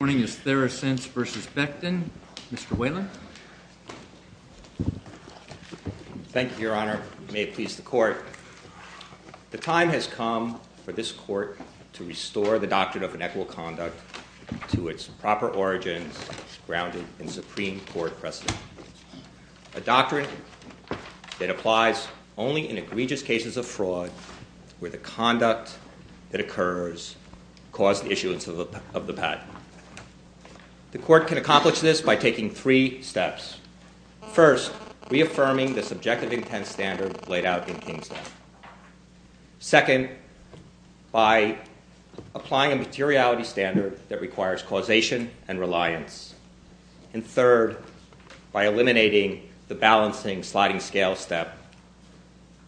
The time has come for this Court to restore the Doctrine of Inequal Conduct to its proper origins grounded in Supreme Court precedent, a doctrine that applies only in egregious cases of fraud where the conduct that occurs caused the issuance of the patent. The Court can accomplish this by taking three steps. First, reaffirming the subjective intent standard laid out in Kingston. Second, by applying a materiality standard that requires causation and reliance. And third, by eliminating the balancing sliding scale step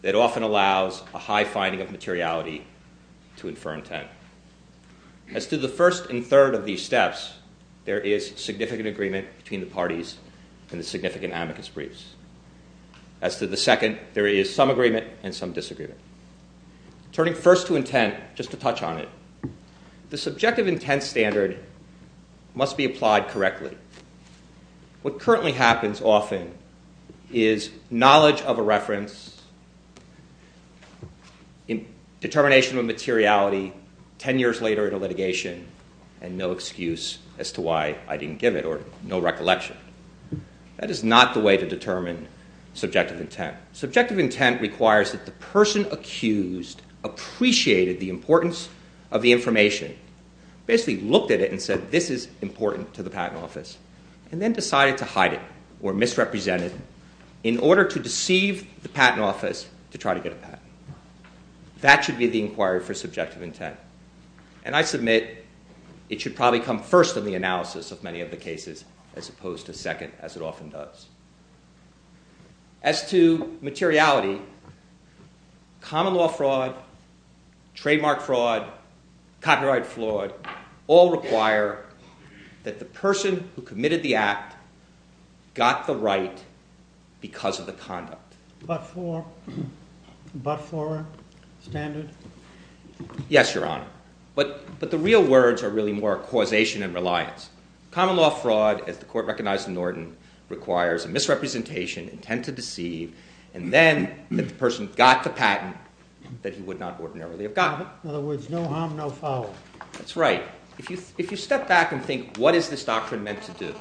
that often allows a high finding of materiality to infer intent. As to the first and third of these steps, there is significant agreement between the parties in the significant amicus briefs. As to the second, there is some agreement and some disagreement. Turning first to intent, just to touch on it, the subjective intent standard must be applied correctly. What currently happens often is knowledge of a reference in determination of materiality ten years later in a litigation and no excuse as to why I didn't give it or no recollection. That is not the way to determine subjective intent. Subjective intent requires that the person accused appreciated the importance of the information, basically looked at it and said this is important to the patent office, and then decided to hide it or misrepresent it in order to deceive the patent office to try to get a patent. That should be the inquiry for subjective intent. And I submit it should probably come first in the analysis of many of the cases, as opposed to second, as it often does. As to materiality, common law fraud, trademark fraud, copyright fraud, all require that the person who committed the act got the right because of the conduct. But for standard? Yes, Your Honor. But the real words are really more causation and reliance. Common law fraud, as the court recognized in Norton, requires misrepresentation, intent to harm no follower. That's right. If you step back and think what is this doctrine meant to do?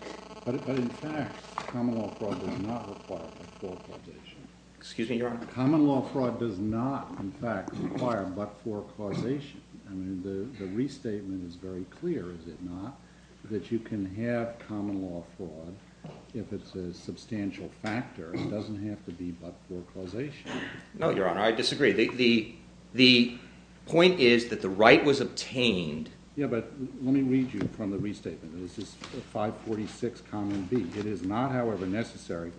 Excuse me, Your Honor? Common law fraud does not, in fact, require but-for causation. The restatement is very clear, is it not, that you can have common law fraud if it's a substantial factor. It doesn't mean that the right was obtained. Yes, but let me read you from the restatement. It is not, however, necessary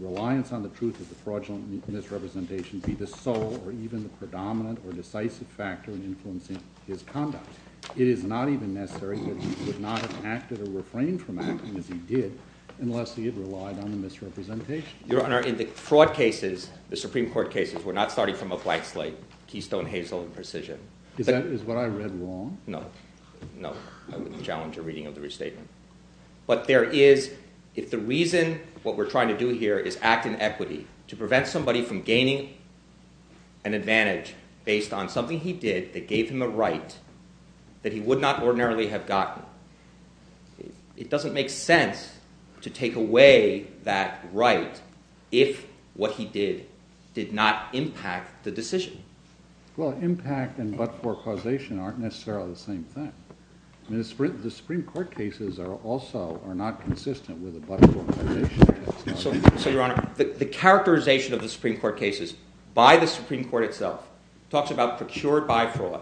reliance on the truth of the fraudulent misrepresentation to be the sole or even the predominant or decisive factor in influencing his conduct. It is not even necessary that he could not have acted or refrained from acting as he did unless he had relied on the misrepresentation. Your Honor, in the fraud cases, the Supreme Court cases, we're not starting from a blank slate, keystone, hazel, and precision. Is that what I read wrong? No, no. I wouldn't challenge your reading of the restatement. But there is, if the reason what we're trying to do here is act in equity, to prevent somebody from gaining an advantage based on something he did that gave him a right that he would not ordinarily have gotten, it doesn't make sense to take away that right if what he did did not impact the decision. Well, impact and but-for causation aren't necessarily the same thing. The Supreme Court cases are also not consistent with the but-for causation. So, Your Honor, the characterization of the Supreme Court cases by the Supreme Court itself talks about procured by fraud.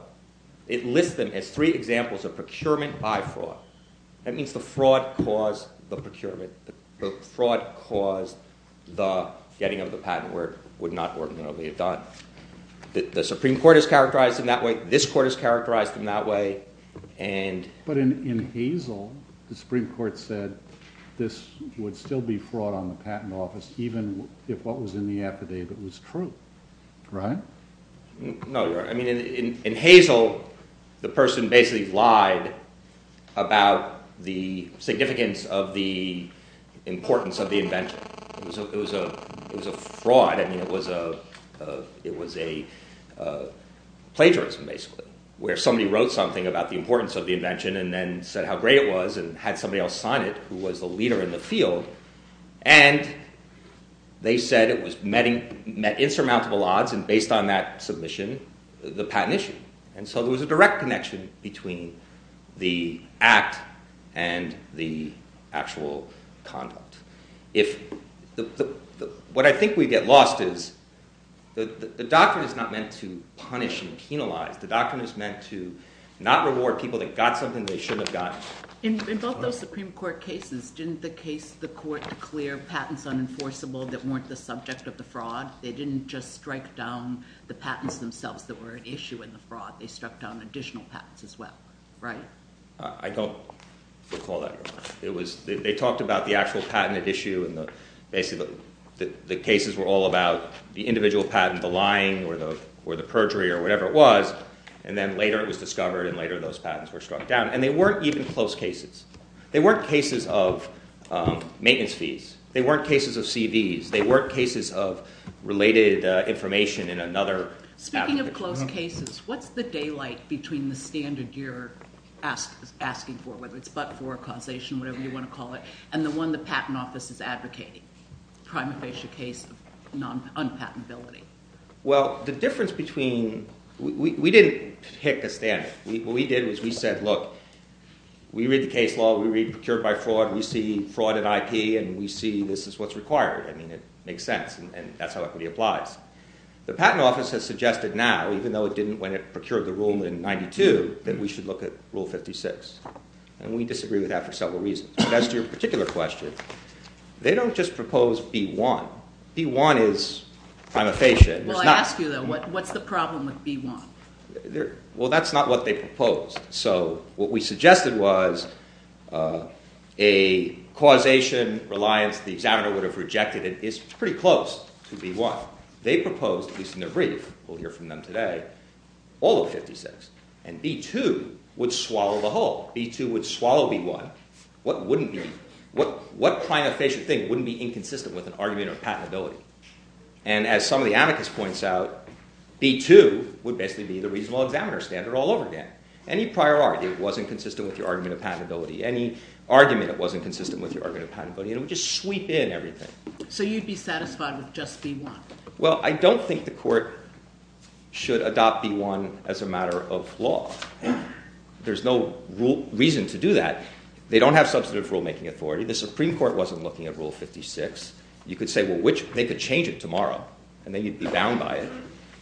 It lists them as three examples of procurement by fraud. That means the fraud caused the procurement. The fraud caused the getting of the patent where it would not ordinarily have gotten. The Supreme Court is characterized in that way. This Court is characterized in that way. But in hazel, the Supreme Court said this would still be fraud on the patent office even if what was in the affidavit was true. Ron? No, Your Honor. I mean, in hazel, the person basically lied about the significance of the importance of the invention. It was a fraud. I mean, it was a plagiarism, basically, where somebody wrote something about the importance of the invention and then said how great it was and had somebody else sign it who was the leader in the field. And they said it met insurmountable odds and based on that submission, the patent issue. And so there was a direct connection between the act and the actual conduct. What I think we get lost is the doctrine is not meant to punish and penalize. The doctrine is meant to not reward people that got something they shouldn't have gotten. In both those Supreme Court cases, didn't the Court clear patents unenforceable that weren't the subject of the fraud? They didn't just strike down the patents themselves that were an issue in the fraud. They struck down additional patents as well, right? I don't recall that. They talked about the actual patent issue and the cases were all about the individual patent, the lying or the perjury or whatever it was. And then later it was discovered and later those patents were struck down. And they weren't even close cases. They weren't cases of maintenance fees. They weren't cases of CVs. They weren't cases of related information in another... Speaking of close cases, what's the daylight between the standard you're asking for, whether it's but-for, causation, whatever you want to call it, and the one the Patent Office is advocating, the prima facie case of unpatentability? Well, the difference between... We didn't pick the standard. What we did is we said, look, we read the case law, we read procured by fraud, we see fraud at IP and we see this is what's required. I mean, it makes sense and that's how equity applies. The Patent Office has suggested now, even though it didn't when it procured the rule in 92, that we should look at Rule 56. And we disagree with that for several reasons. As to your particular question, they don't just propose D1. D1 is prima facie. Well, I ask you though, what's the problem with D1? Well, that's not what they proposed. So, what we suggested was a causation reliance, the examiner would have rejected it, is pretty close to D1. They proposed, at least in their brief, we'll hear from them today, all of 56. And D2 would swallow the whole. D2 would swallow D1. What wouldn't be? What prima facie thing wouldn't be inconsistent with an argument of patentability? And as some of the anarchists point out, D2 would basically be the reasonable examiner standard all over again. Any prior argument wasn't consistent with your argument of patentability. Any argument that wasn't consistent with your argument of patentability, and we just sweep in everything. So, you'd be satisfied with just D1? Well, I don't think the court should adopt D1 as a matter of law. There's no reason to do that. They don't have substantive rule-making authority. The Supreme Court wasn't looking at Rule 56. You could say, well, they could change it tomorrow, and then you'd be bound by it.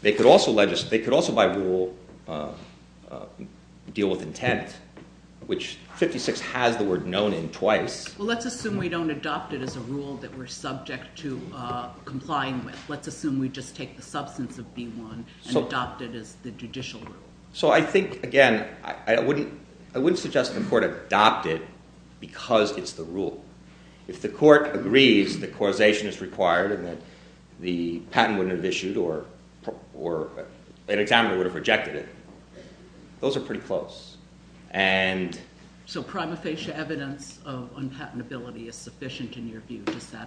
They could also, by rule, deal with intent, which 56 has the word known in twice. Well, let's assume we don't adopt it as a rule that we're subject to complying with. Let's assume we just take the substance of D1 and adopt it as the judicial rule. So, I think, again, I wouldn't suggest the court adopt it because it's the rule. If the court agrees that causation is required and that the patent wouldn't have issued, or an examiner would have rejected it, those are pretty close. So, prima facie evidence of unpatentability is sufficient in your view?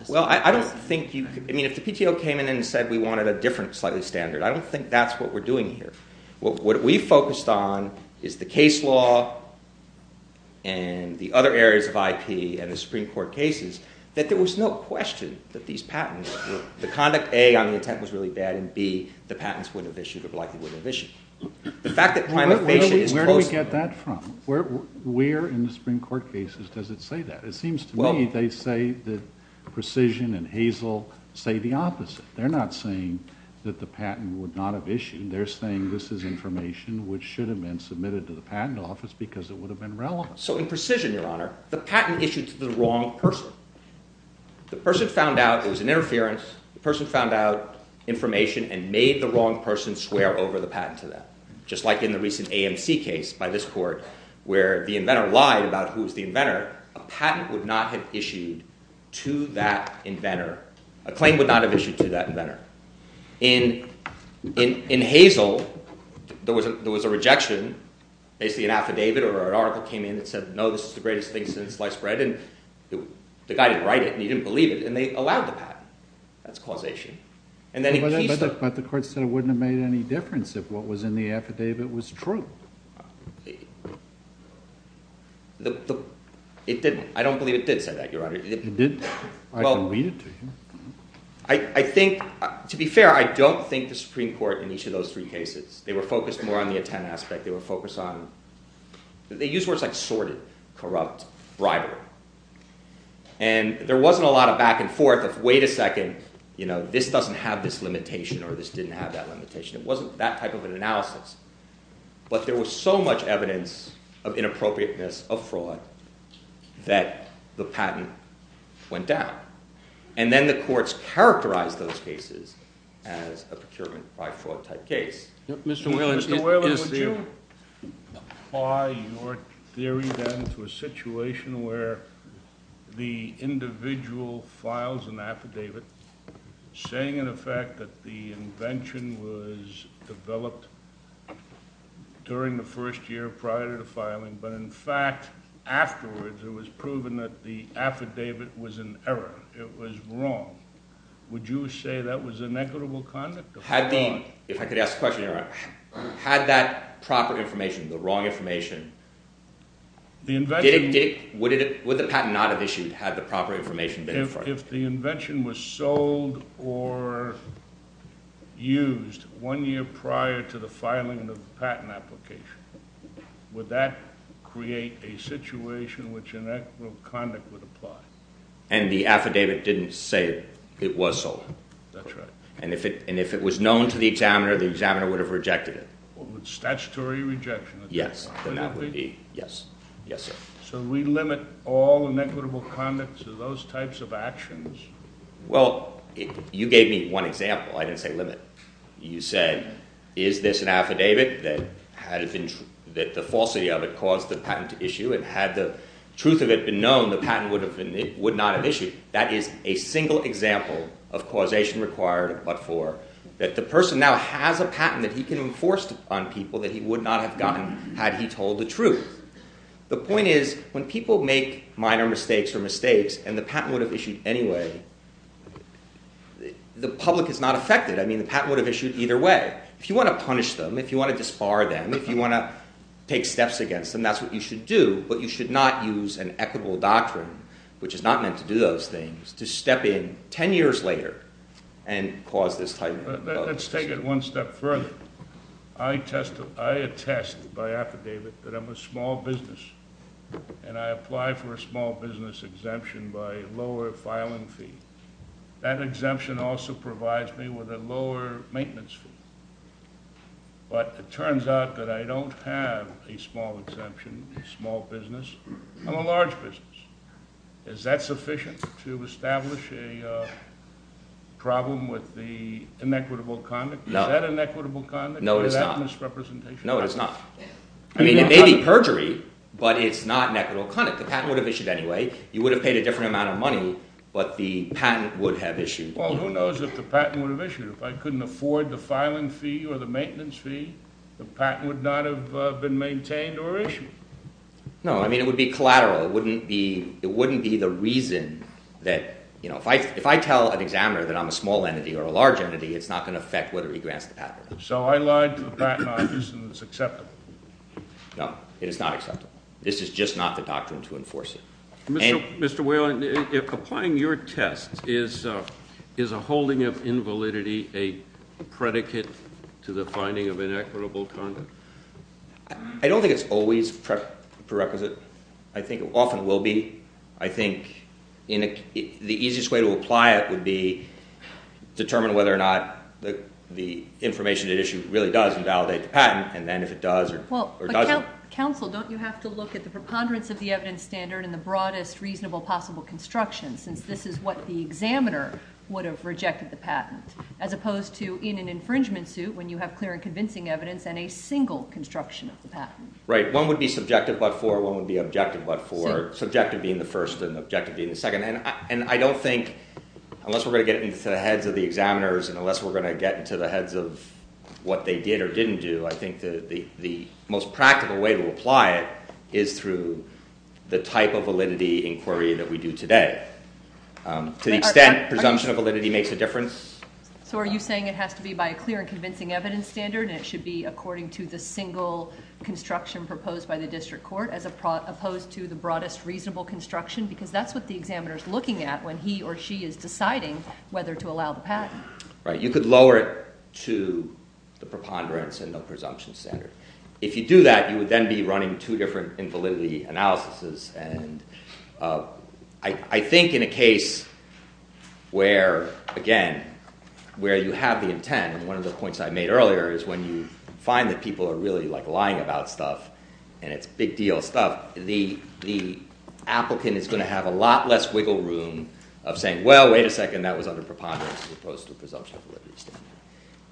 Well, I don't think, I mean, if the PTO came in and said we wanted a different slightly standard, I don't think that's what we're doing here. What we focused on is the case law and the other areas of IP and the Supreme Court cases that there was no question that these patents, the conduct, A, on the intent was really bad, and B, the patents wouldn't have issued or likely wouldn't have issued. Where do we get that from? Where in the Supreme Court cases does it say that? It seems to me they say that Precision and Hazel say the opposite. They're not saying that the patent would not have issued. They're saying this is information which should have been submitted to the patent office because it would have been relevant. So, in Precision, Your Honor, the patent issued to the wrong person. The person found out it was an interference. The person found out information and made the wrong person swear over the patent to them. Just like in the recent AMC case by this court where the inventor lied about who was the inventor, a patent would not have issued to that inventor. A claim would not have issued to that inventor. In Hazel, there was a rejection. Basically, an affidavit or an article came in and said, no, this is the greatest thing since sliced bread, and the guy didn't write it. He didn't believe it, and they allowed the patent. That's causation. But the court said it wouldn't have made any difference if what was in the affidavit was true. It didn't. I don't believe it did say that, Your Honor. It didn't? I believe it did. I think, to be fair, I don't think the Supreme Court in each of those three cases, they were focused more on the intent aspect. They were focused on... They used words like sordid, corrupt, rival. There wasn't a lot of back and forth, wait a second, this doesn't have this limitation, or this didn't have that limitation. It wasn't that type of an analysis. But there was so much evidence of inappropriateness of fraud that the patent went down. Then the courts characterized those cases as a procurement by fraud type case. There was a section where the individual files an affidavit saying in effect that the invention was developed during the first year prior to the filing, but in fact afterwards it was proven that the affidavit was an error. It was wrong. Would you say that was inequitable conduct? Had that proper information, the wrong information, the invention... Would the patent not have issued if it had the proper information? If the invention was sold or used one year prior to the filing of the patent application, would that create a situation which inequitable conduct would apply? And the affidavit didn't say it was sold. That's right. And if it was known to the examiner, the examiner would have rejected it. Statutory rejection. Yes. So we limit all inequitable conduct to those types of actions? Well, you gave me one example. I didn't say limit. You said, is this an affidavit that the falsity of it caused the patent to issue and had the truth of it been known, the patent would not have issued. That is a single example of causation required of but-for. The person now has a patent that he can enforce on people that he would not have gotten had he told the truth. The point is, when people make minor mistakes or mistakes and the patent would have issued anyway, the public is not affected. I mean, the patent would have issued either way. If you want to punish them, if you want to disbar them, if you want to take steps against them, that's what you should do. But you should not use an equitable doctrine, which is not meant to do those things, to step in 10 years later and cause this type of penalty. Let's take it one step further. I attest by affidavit that I'm a small business and I apply for a small business exemption by a lower filing fee. That exemption also provides me with a lower maintenance fee. But it turns out that I don't have a small exemption, a small business. I'm a large business. Is that sufficient to establish a problem with the inequitable conduct? No. Is that inequitable conduct? No, it is not. Is that misrepresentation? No, it is not. I mean, it may be perjury, but it's not inequitable conduct. The patent would have issued anyway. You would have paid a different amount of money, but the patent would have issued. Well, who knows if the patent would have issued? If I couldn't afford the filing fee or the maintenance fee, the patent would not have been maintained or issued. No, I mean, it would be collateral. It wouldn't be the reason that, you know, if I tell an examiner that I'm a small entity or a large entity, it's not going to affect whether he grants the patent. So I lied to the patent office and it's acceptable? No, it is not acceptable. This is just not the doctrine to enforce it. Mr. Whalen, if applying your test, is a holding of invalidity a predicate to the finding of inequitable conduct? I don't think it's always preferential. I think often it will be. I think the easiest way to apply it would be determine whether or not the information that is issued really does invalidate the patent, and then if it does or doesn't. Counsel, don't you have to look at the preponderance of the evidence standard and the broadest reasonable possible construction since this is what the examiner would have rejected the patent as opposed to in an infringement suit when you have clear and convincing evidence and a single construction of the patent? Right. One would be subjective but for, one would be objective but for. Subjective being the first and objective being the second. And I don't think, unless we're going to get into the heads of the examiners and unless we're going to get into the heads of what they did or didn't do, I think the most practical way to apply it is through the type of validity inquiry that we do today. To the extent presumption of validity makes a difference. So are you saying it has to be by a clear and convincing evidence standard and it should be according to the single construction proposed by the district court as opposed to the broadest reasonable construction because that's what the examiner is looking at when he or she is deciding whether to allow the patent. Right. You could lower it to the preponderance and the presumption standard. If you do that, you would then be running two different invalidity analyses. And I think in a case where, again, where you have the intent, and one of the points I made earlier is when you find that people are really lying about stuff and it's a big deal of stuff, the applicant is going to have a lot less wiggle room of saying, well, wait a second, that was under preponderance as opposed to presumption of validity.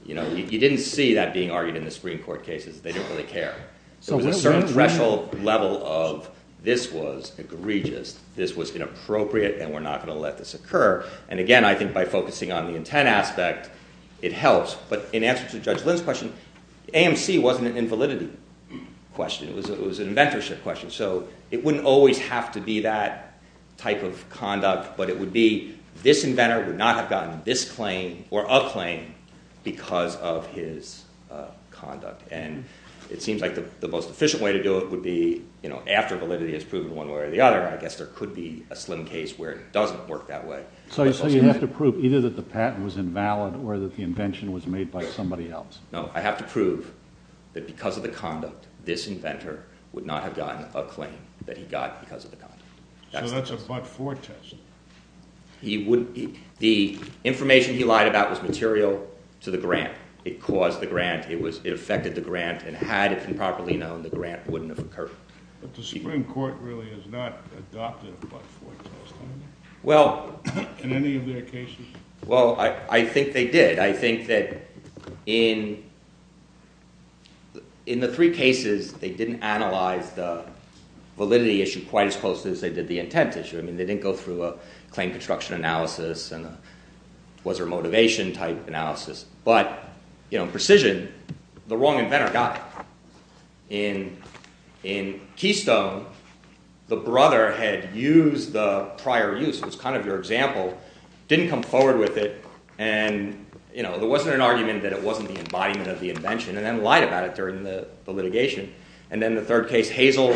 You didn't see that being argued in the Supreme Court cases. They didn't really care. So a certain threshold level of this was egregious, this was inappropriate, and we're not going to let this occur. And again, I think by focusing on the intent aspect, it helps, but in answer to Judge Liz's question, AMC wasn't an invalidity question. It was an inventorship question. So it wouldn't always have to be that type of conduct, but it would be this inventor would not have gotten this claim or a claim because of his conduct. And it seems like the most efficient way to do it would be after validity is proven one way or the other. I guess there could be a slim case where it doesn't work that way. So you have to prove either that the patent was invalid or that the invention was made by somebody else. No, I have to prove that because of the conduct, this inventor would not have gotten a claim that he got because of the conduct. So that's a but-for test. The information he lied about was material to the grant. It caused the grant, it affected the grant, and had it been properly known, the grant wouldn't have occurred. But the Supreme Court really is not adopting a but-for test. Well... In any of their cases? Well, I think they did. I think that in the three cases, they didn't analyze the validity issue quite as closely as they did the intent issue. I mean, they didn't go through a claim construction analysis and a was-or-motivation type of analysis. But in precision, the wrong inventor got it. In Keystone, the brother had used the prior use, it was kind of your example, didn't come forward with it, and there wasn't an argument that it wasn't the embodiment of the invention, and then lied about it during the litigation. And then the third case, Hazel,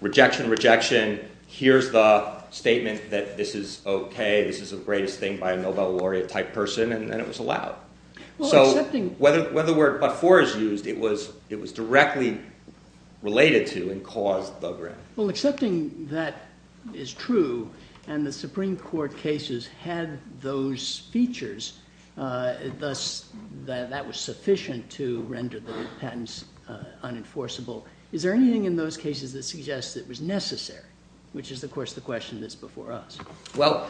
rejection, rejection, here's the statement that this is OK, this is the greatest thing by a Nobel laureate type person, and it was allowed. So when the word but-for is used, it was directly related to and caused buggering. Well, accepting that is true, and the Supreme Court cases had those features, thus that was sufficient to render the patents unenforceable, is there anything in those cases that suggests it was necessary? Which is, of course, the question that's before us. Well,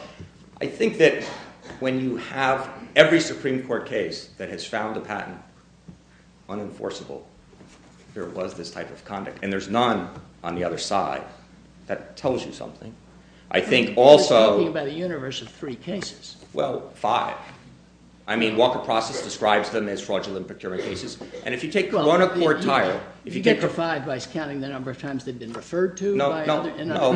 I think that when you have every Supreme Court case that has found a patent unenforceable, there was this type of conduct. And there's none on the other side that tells you something. I think also... Well, five. I mean, Walker Process describes them as fraudulent procurement cases, and if you take the one or four tire... If you get to five by counting the number of times they've been referred to... No,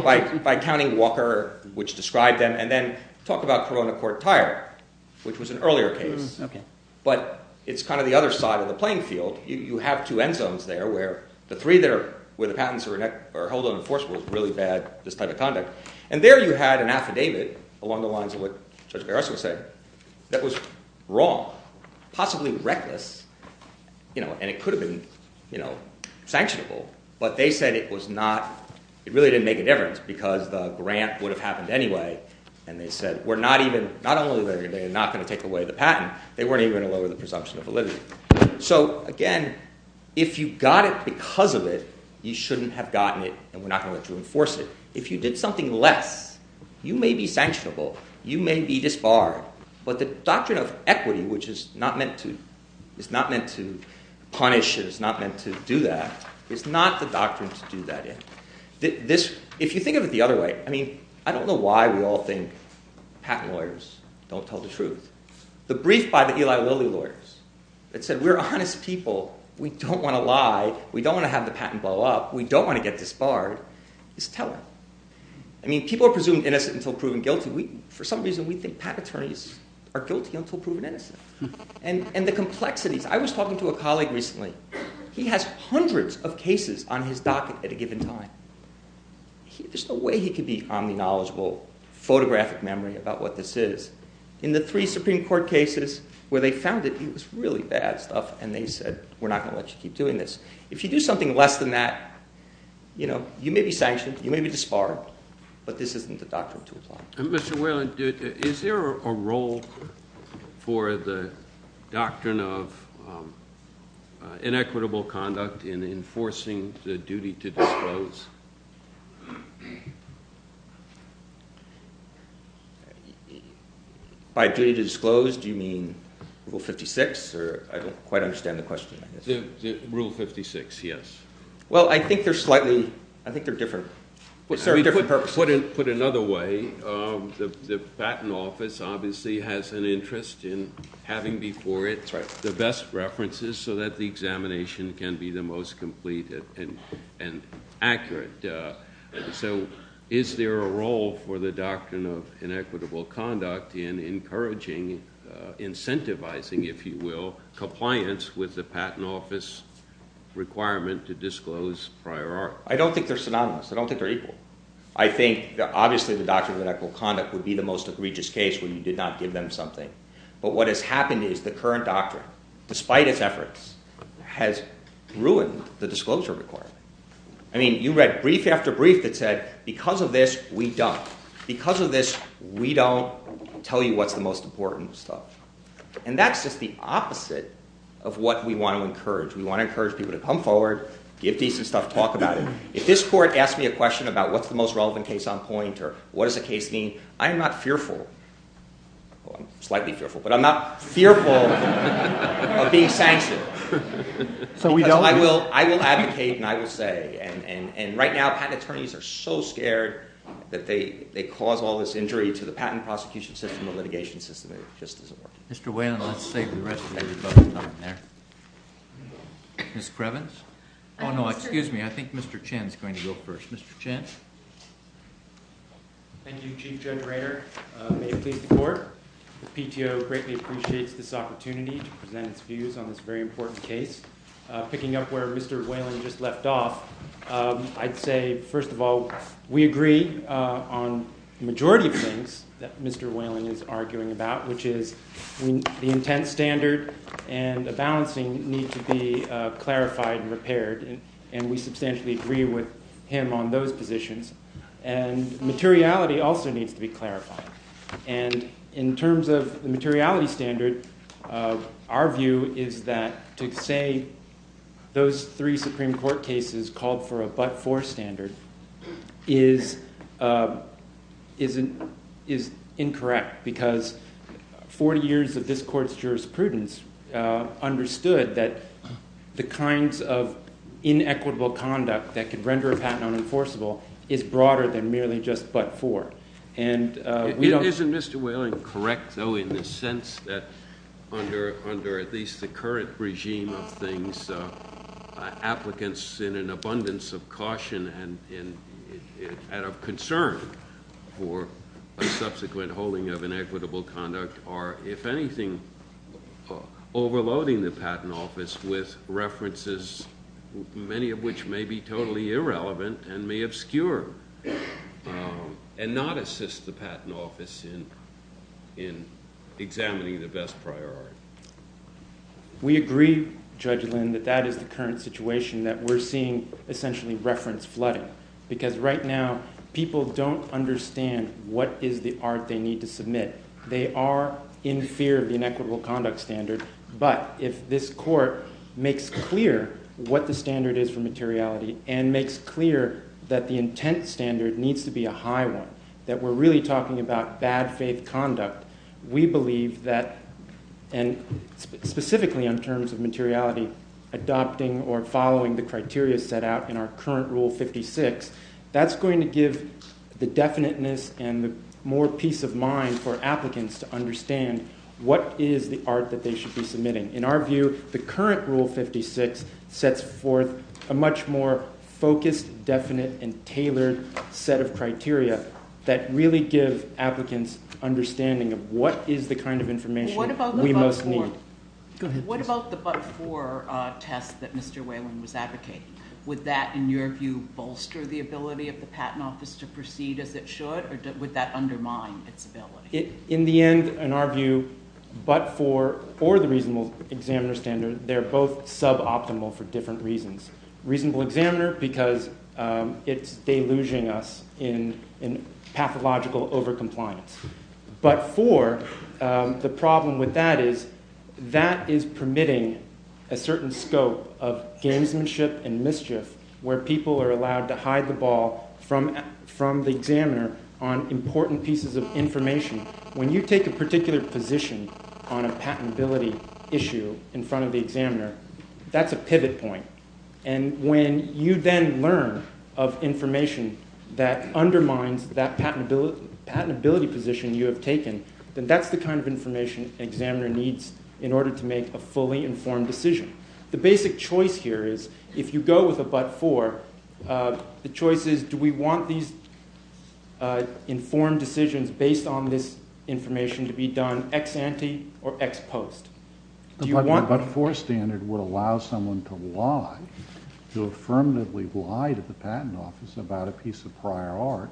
by counting Walker, which described them, and then talk about Corona Court Tire, which was an earlier case, but it's kind of the other side of the playing field. You have two end zones there, where the patents are wholly unenforceable, and there you had an affidavit along the lines of what Judge Garrison said that was wrong, possibly reckless, and it could have been sanctionable, but they said it really didn't make a difference because the grant would have happened anyway, and they said not only were they not going to take away the patent, they weren't even going to lower the presumption of validity. So, again, if you got it because of it, you shouldn't have gotten it, and we're not going to enforce it. If you did something less, you may be sanctionable, you may be disbarred, but the doctrine of equity, which is not meant to punish, which is not meant to do that, is not the doctrine to do that in. If you think of it the other way, I don't know why we all think patent lawyers don't tell the truth. The brief by the Eli Lilly lawyers that said we're honest people, we don't want to lie, we don't want to have the patent blow up, we don't want to get disbarred, is telling. People are presumed innocent until proven guilty. For some reason, we think patent attorneys are guilty until proven innocent. I was talking to a colleague recently. He has hundreds of cases on his docket at a given time. There's no way he could be from a knowledgeable photographic memory about what this is. In the three Supreme Court cases where they found it, it was really bad stuff, and they said we're not going to let you keep doing this. If you do something less than that, you may be sanctioned, you may be disbarred, but this isn't the doctrine to apply. Is there a role for the doctrine of inequitable conduct in enforcing the duty to disclose? By duty to disclose, do you mean Rule 56? I don't quite understand the question. Rule 56, yes. I think they're different. Put another way, the patent office obviously has an interest in having before it the best references so that the examination can be the most complete and accurate. Is there a role for the doctrine of inequitable conduct in encouraging, incentivizing, if you will, compliance with the patent office requirement to disclose prior art? I don't think they're synonymous, I don't think they're equal. I think obviously the doctrine of inequitable conduct would be the most egregious case where you did not give them something. But what has happened is the current doctrine, despite its efforts, has ruined the disclosure requirement. You read brief after brief that said because of this, we don't. Because of this, we don't tell you what's the most important stuff. And that's just the opposite of what we want to encourage. We want to encourage people to come forward, give decent stuff, talk about it. If this court asks me a question about what's the most relevant case on point or what does the case mean, I'm not fearful. Well, I'm slightly fearful, but I'm not fearful of being sanctioned. I will advocate and I will say. And right now, patent attorneys are so scared that they cause all this injury to the patent prosecution system and litigation system. Mr. Whalen, I'll save the rest of your time there. Ms. Prevance? Oh no, excuse me, I think Mr. Chen is going to go first. Thank you, Chief Judge Rayner. May it please the Court, the PTO greatly appreciates this opportunity to present its views on this very important case. Picking up where Mr. Whalen just left off, I'd say, first of all, we agree on the majority of things that Mr. Whalen is arguing about, which is the intent standard and the balancing need to be clarified and repaired. And we substantially agree with him on those positions. And materiality also needs to be clarified. And in terms of the materiality standard, our view is that to say those three Supreme Court cases called for a but-for standard is incorrect. Because 40 years of this Court's jurisprudence understood that the kinds of inequitable conduct that could render a patent unenforceable is broader than merely just but-for. Isn't Mr. Whalen correct, though, in the sense that under at least the current regime of things, applicants in an abundance of caution and of concern for a subsequent holding of inequitable conduct are, if anything, overloading the Patent Office with references many of which may be totally irrelevant and may obscure and not assist the Patent Office in examining the best priority? We agree, Judge Lynn, that that is the current situation that we're seeing essentially reference flooding. Because right now people don't understand what is the art they need to submit. They are in fear of the inequitable conduct standard but if this Court makes clear what the standard is for materiality and makes clear that the intent standard needs to be a high one that we're really talking about bad faith conduct we believe that specifically in terms of materiality adopting or following the criteria set out in our current Rule 56 that's going to give the definiteness and the more peace of mind for applicants to understand what is the art that they should be submitting. In our view, the current Rule 56 sets forth a much more focused, definite, and tailored set of criteria that really gives applicants understanding of what is the kind of information we must need. What about the but-for test that Mr. Whalen was advocating? Would that, in your view, bolster the ability of the Patent Office to proceed as it should or would that undermine its ability? In the end, in our view, but-for or the reasonable examiner standard, they're both sub-optimal for different reasons. Reasonable examiner because it's deluging us in pathological over-compliance. But-for, the problem with that is that is permitting a certain scope of gamesmanship and mischief where people are allowed to hide the ball from the examiner on important pieces of information. When you take a particular position on a patentability issue in front of the examiner, that's a pivot point. And when you then learn of information that undermines that patentability position you have taken, then that's the kind of information an examiner needs in order to make a fully informed decision. The basic choice here is, if you go with a but-for, the choice is, do we want these informed decisions based on this information to be done ex-ante or ex-post? But-for standard would allow someone to lie, to affirmatively lie to the Patent Office about a piece of prior art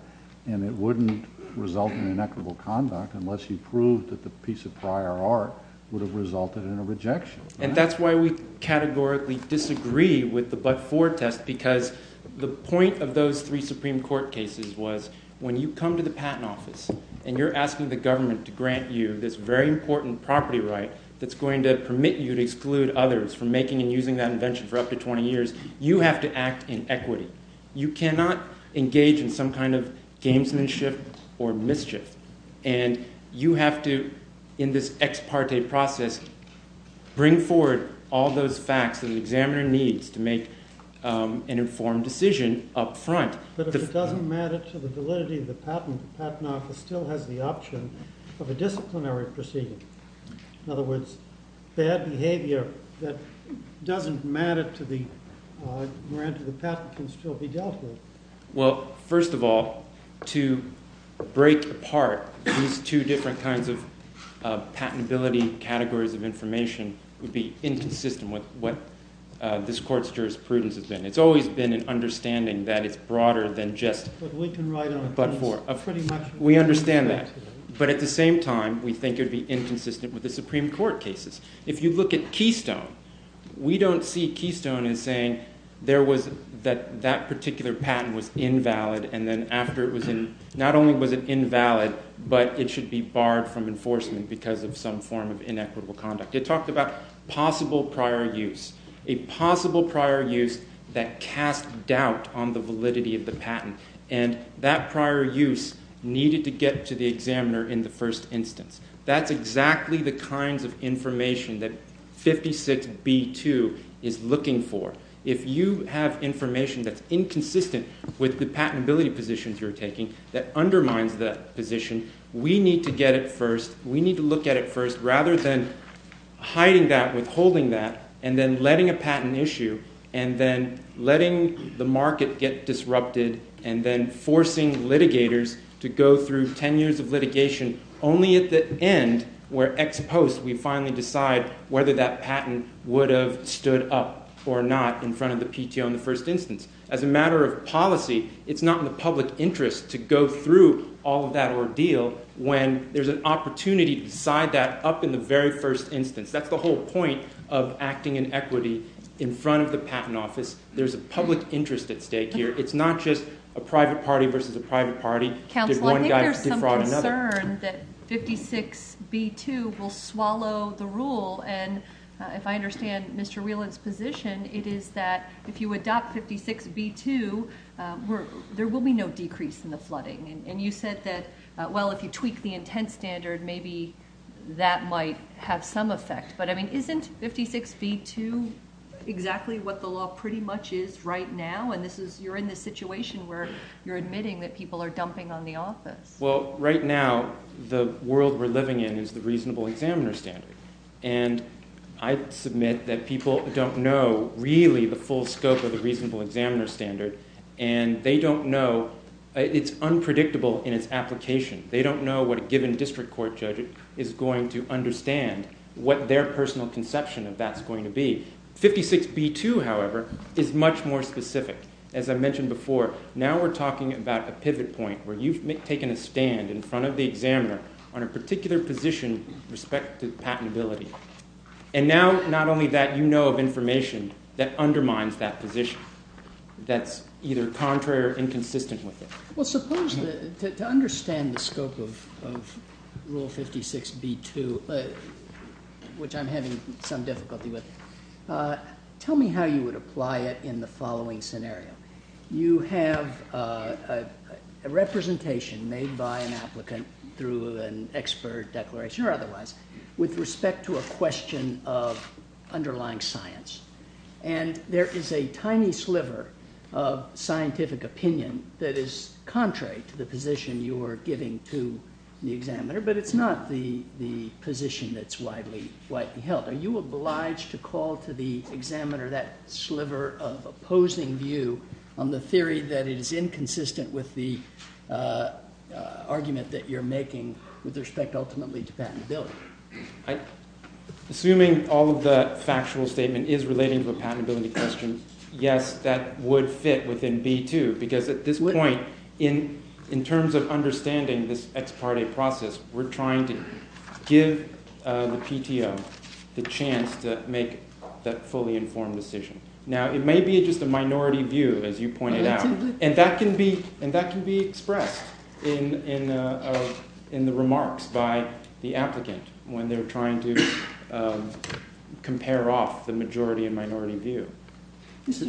and it wouldn't result in inequitable conduct unless you proved that the piece of prior art would have resulted in a rejection. And that's why we categorically disagree with the but-for test because the point of those three Supreme Court cases was when you come to the Patent Office and you're asking the government to grant you this very important property right that's going to permit you to exclude others from making and using that invention for up to 20 years, you have to act in equity. You cannot engage in some kind of gamesmanship or mischief. And you have to, in this ex-parte process, bring forward all those facts that an examiner needs to make an informed decision up front. But if it doesn't matter to the validity of the patent, the Patent Office still has the option of a disciplinary proceeding. In other words, bad behavior that doesn't matter to the patent can still be justified. Well, first of all, to break apart these two different kinds of patentability categories of information would be inconsistent with what this Court's jurisprudence has been. It's always been an understanding that it's broader than just but-for. We understand that. But at the same time, we think it would be inconsistent with the Supreme Court cases. If you look at Keystone, we don't see Keystone in saying that particular patent was invalid and not only was it invalid, but it should be barred from enforcement because of some form of inequitable conduct. It talked about possible prior use. A possible prior use that casts doubt on the validity of the patent. And that prior use needed to get to the examiner in the first instance. That's exactly the kind of information that 56B2 is looking for. If you have information that's inconsistent with the patentability positions you're taking that undermines that position, we need to get it first. We need to look at it first rather than hiding that, withholding that, and then letting a patent issue, and then letting the market get disrupted, and then forcing litigators to go through 10 years of litigation only at the end, where ex post, we finally decide whether that patent would have stood up or not in front of the PTO in the first instance. As a matter of policy, it's not in the public interest to go through all of that ordeal when there's an opportunity to decide that up in the very first instance. That's the whole point of acting in equity in front of the patent office. There's a public interest at stake here. It's not just a private party versus a private party. They're going to have to defraud another. I'm concerned that 56B2 will swallow the rule. If I understand Mr. Wheelan's position, it is that if you adopt 56B2, there will be no decrease in the flooding. You said that if you tweak the intent standard, maybe that might have some effect. Isn't 56B2 exactly what the law pretty much is right now? You're in this situation where you're admitting that people are dumping on the office. Right now, the world we're living in is the reasonable examiner standard. I submit that people don't know really the full scope of the reasonable examiner standard. It's unpredictable in its application. They don't know what a given district court judge is going to understand what their personal conception of that is going to be. 56B2, however, is much more specific. As I mentioned before, now we're talking about a pivot point where you've taken a stand in front of the examiner on a particular position with respect to patentability. Now, not only that, you know of information that undermines that position, that's either contrary or inconsistent with it. To understand the scope of Rule 56B2, which I'm having some difficulty with, tell me how you would apply it in the following scenario. You have a representation made by an applicant through an expert declaration or otherwise with respect to a question of underlying science. There is a tiny sliver of scientific opinion that is contrary to the position you are giving to the examiner, but it's not the position that's widely held. Are you obliged to call to the examiner that sliver of opposing view on the theory that is inconsistent with the argument that you're making with respect ultimately to patentability? Assuming all of that factual statement is relating to a patentability question, yes, that would fit within B2, because at this point in terms of understanding this ex parte process, we're trying to give the PTO the chance to make that fully informed decision. Now, it may be just a minority view, as you pointed out, and that can be expressed in the remarks by the applicant when they're trying to compare off the majority and minority view. There's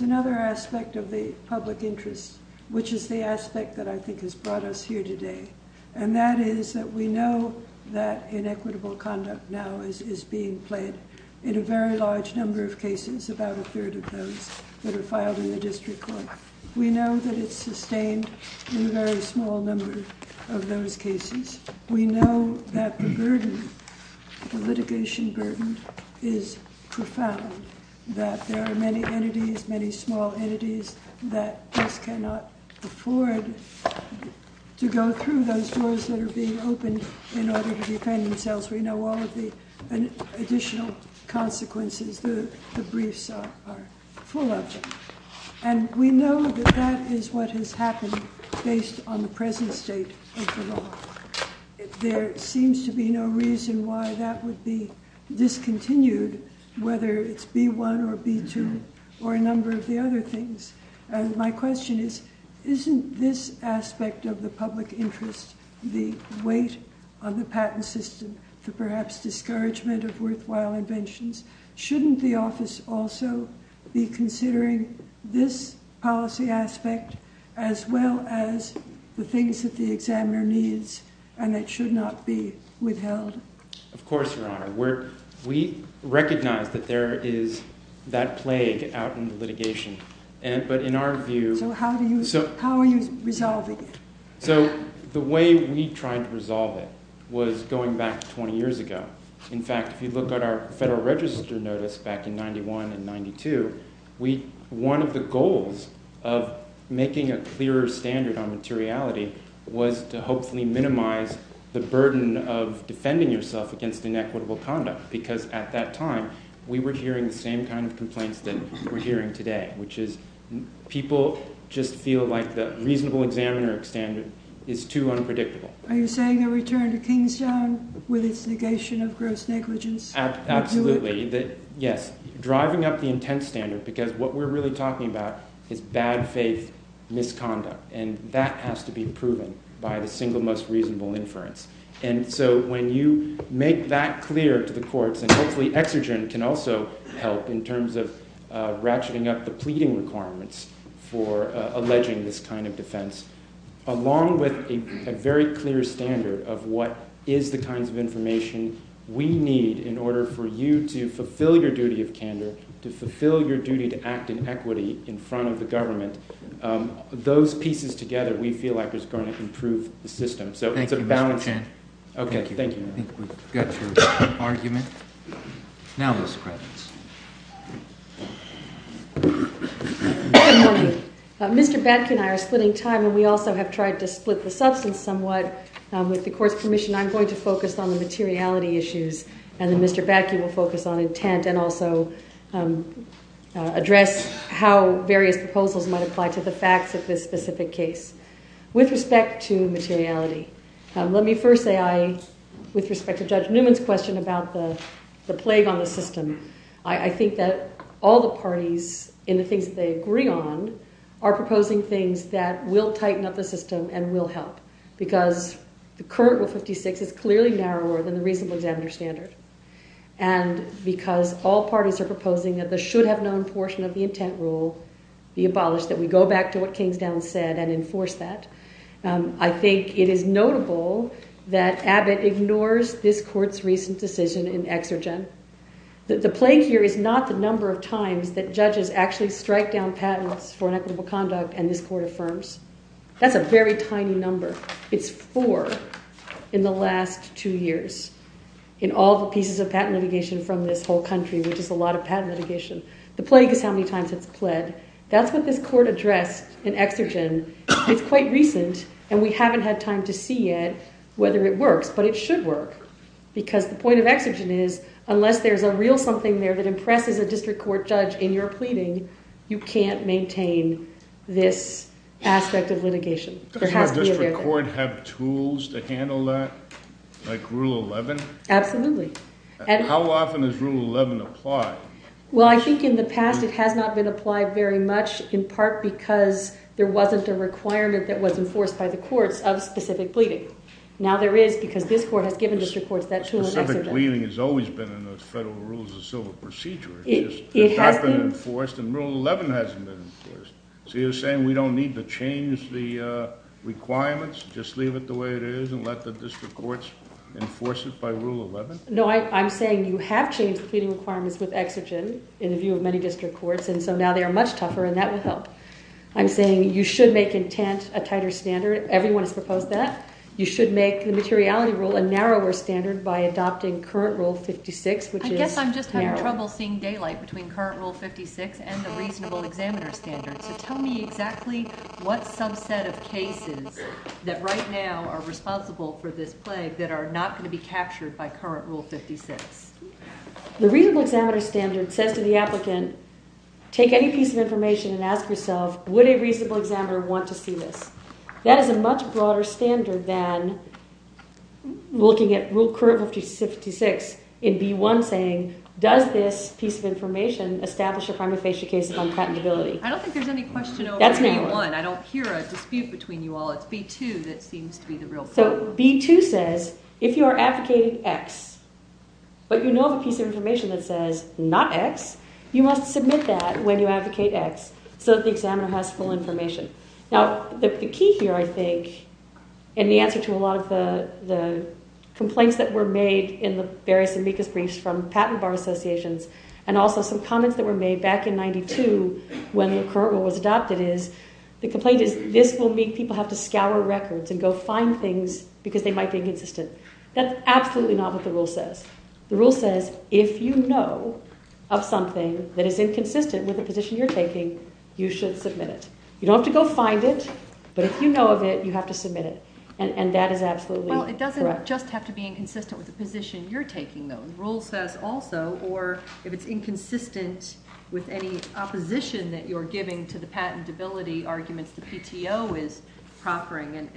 another aspect of the public interest, which is the aspect that I think has brought us here today, and that is that we know that inequitable conduct now is being played in a very large number of cases, about a third of those that are filed in the district court. We know that it's sustained in very small numbers of those cases. We know that the litigation burden is profound, that there are many entities, many small entities that just cannot afford to go through those doors that are being opened in order to defend themselves. We know all of the additional consequences, the briefs are full of them. And we know that that is what has happened based on the present state of the law. There seems to be no reason why that would be discontinued, whether it's B1 or B2 or a number of the other things. My question is, isn't this aspect of the public interest the weight of the patent system to perhaps discouragement of worthwhile inventions? Shouldn't the office also be considering this policy aspect as well as the things that the examiner needs, and it should not be We recognize that there is that plague out in the litigation, but in our view So how are you resolving it? The way we tried to resolve it was going back 20 years ago. In fact, if you look at our Federal Register notice back in 91 and 92 one of the goals of making a clearer standard on materiality was to hopefully minimize the burden of At that time, we were hearing the same kind of complaints that we're hearing today, which is people just feel like the reasonable examiner standard is too unpredictable. Are you saying a return to with its negation of gross negligence? Absolutely. Yes. Driving up the intent standard because what we're really talking about is bad faith misconduct, and that has to be proven by the single most reasonable inference. And so when you make that clear to the courts and hopefully exergence can also help in terms of ratcheting up the pleading requirements for alleging this kind of defense along with a very clear standard of what is the kind of information we need in order for you to fulfill your duty of candor to fulfill your duty to act in equity in front of the government those pieces together we feel like improve the system. Mr. Batke and I are splitting time and we also have tried to split the substance somewhat. With the court's permission, I'm going to focus on the materiality issues and Mr. Batke will focus on intent and also address how various proposals might apply to the facts of this specific case. With respect to materiality, let me first say with respect to Judge Newman's question about the plague on the system, I think that all the parties in the things they agree on are proposing things that will tighten up the system and will help because the current Rule 56 is clearly narrower than the reasonable agenda standard and because all parties are proposing that there should have I think it is notable that Abbott ignores this court's recent decision in Exergence that the plague here is not the number of times that judges actually strike down patents for inequitable conduct and this court affirms. That's a very tiny number. It's four in the last two years in all the pieces of patent litigation The plague here is not the number of times The plague is how many times it's fled. That's what this court addressed in Exergence. It's quite recent and we haven't had time to see yet whether it works but it should work because the point of Exergence is unless there's a real something there that impresses a district court judge in your pleading, you can't maintain this aspect of litigation. Does the district court have tools to handle that like Rule 11? Absolutely. How often does Rule 11 apply? Well I think in the past it has not been applied very much in part because there wasn't a requirement that was enforced by the courts of specific pleading. Now there is because this court has given this report Specific pleading has always been in the Federal Rules of Civil Procedure It hasn't been enforced and Rule 11 hasn't been enforced So you're saying we don't need to change the requirements, just leave it the way it is and let the I'm saying you have changed the pleading requirements with Exergence in the view of many district courts and so now they are much tougher and that would help. I'm saying you should make Intent a tighter standard Everyone has proposed that. You should make the Materiality Rule a narrower standard by adopting Current Rule 56 I guess I'm just having trouble seeing daylight between Current Rule 56 and the Reasonable Examiner Standard Tell me exactly what subset of cases that right now are responsible for this The Reasonable Examiner Standard says to the applicant take any piece of information and ask yourself would a reasonable examiner want to see this That is a much broader standard than looking at Rule Current Rule 56 in B1 saying does this piece of information establish a crime of facial cases on patentability I don't think there is any question over B1. I don't hear a dispute between you all It's B2 that seems to be the real problem B2 says if you are advocating X but you know a piece of information that says not X you must submit that when you advocate X so that the examiner has full information The key here I think and the answer to a lot of the complaints that were made in the various amicus briefs from the Patent Bar Association and also some comments that were made back in 92 when Current Rule was adopted is The complaint is this will mean people have to scour records and go find things because they might be inconsistent That's absolutely not what the rule says The rule says if you know of something that is inconsistent with the position you're taking, you should submit it You don't have to go find it, but if you know of it you have to submit it It doesn't just have to be inconsistent with the position you're taking The rule says also if it's inconsistent with any opposition that you're giving to the patentability arguments the PTO is conquering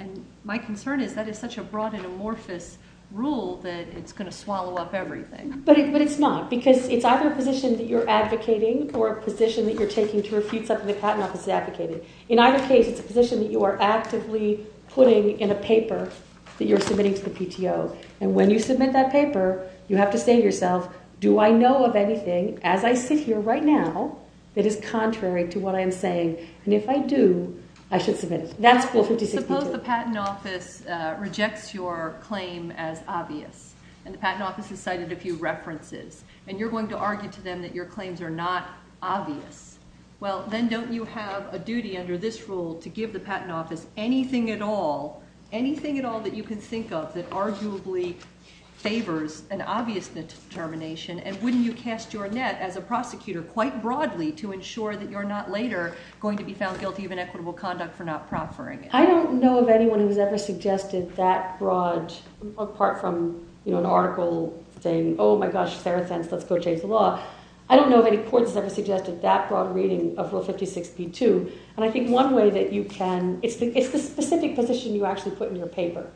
My concern is that is such a broad and amorphous rule that it's going to swallow up everything But it's not, because it's either a position that you're advocating or a position that you're taking to receive something that the patent office is advocating In either case, it's a position that you are actively putting in a paper that you're submitting to the PTO and when you submit that paper, you have to say to yourself Do I know of anything, as I sit here right now that is contrary to what I'm saying and if I do, I should submit it Suppose the patent office rejects your claim as obvious and the patent office has cited a few references and you're going to argue to them that your claims are not obvious Well, then don't you have a duty under this rule to give the patent office anything at all anything at all that you can think of that arguably favors an obvious determination and wouldn't you cast your net as a prosecutor quite broadly to ensure that you're not later going to be found guilty of inequitable conduct for not proffering it I don't know of anyone who has ever suggested that broad apart from an article saying Oh my gosh, fair offense, let's go change the law I don't know of any court that has ever suggested that broad reading of Rule 5262 and I think one way that you can it's the specific position you actually put in your paper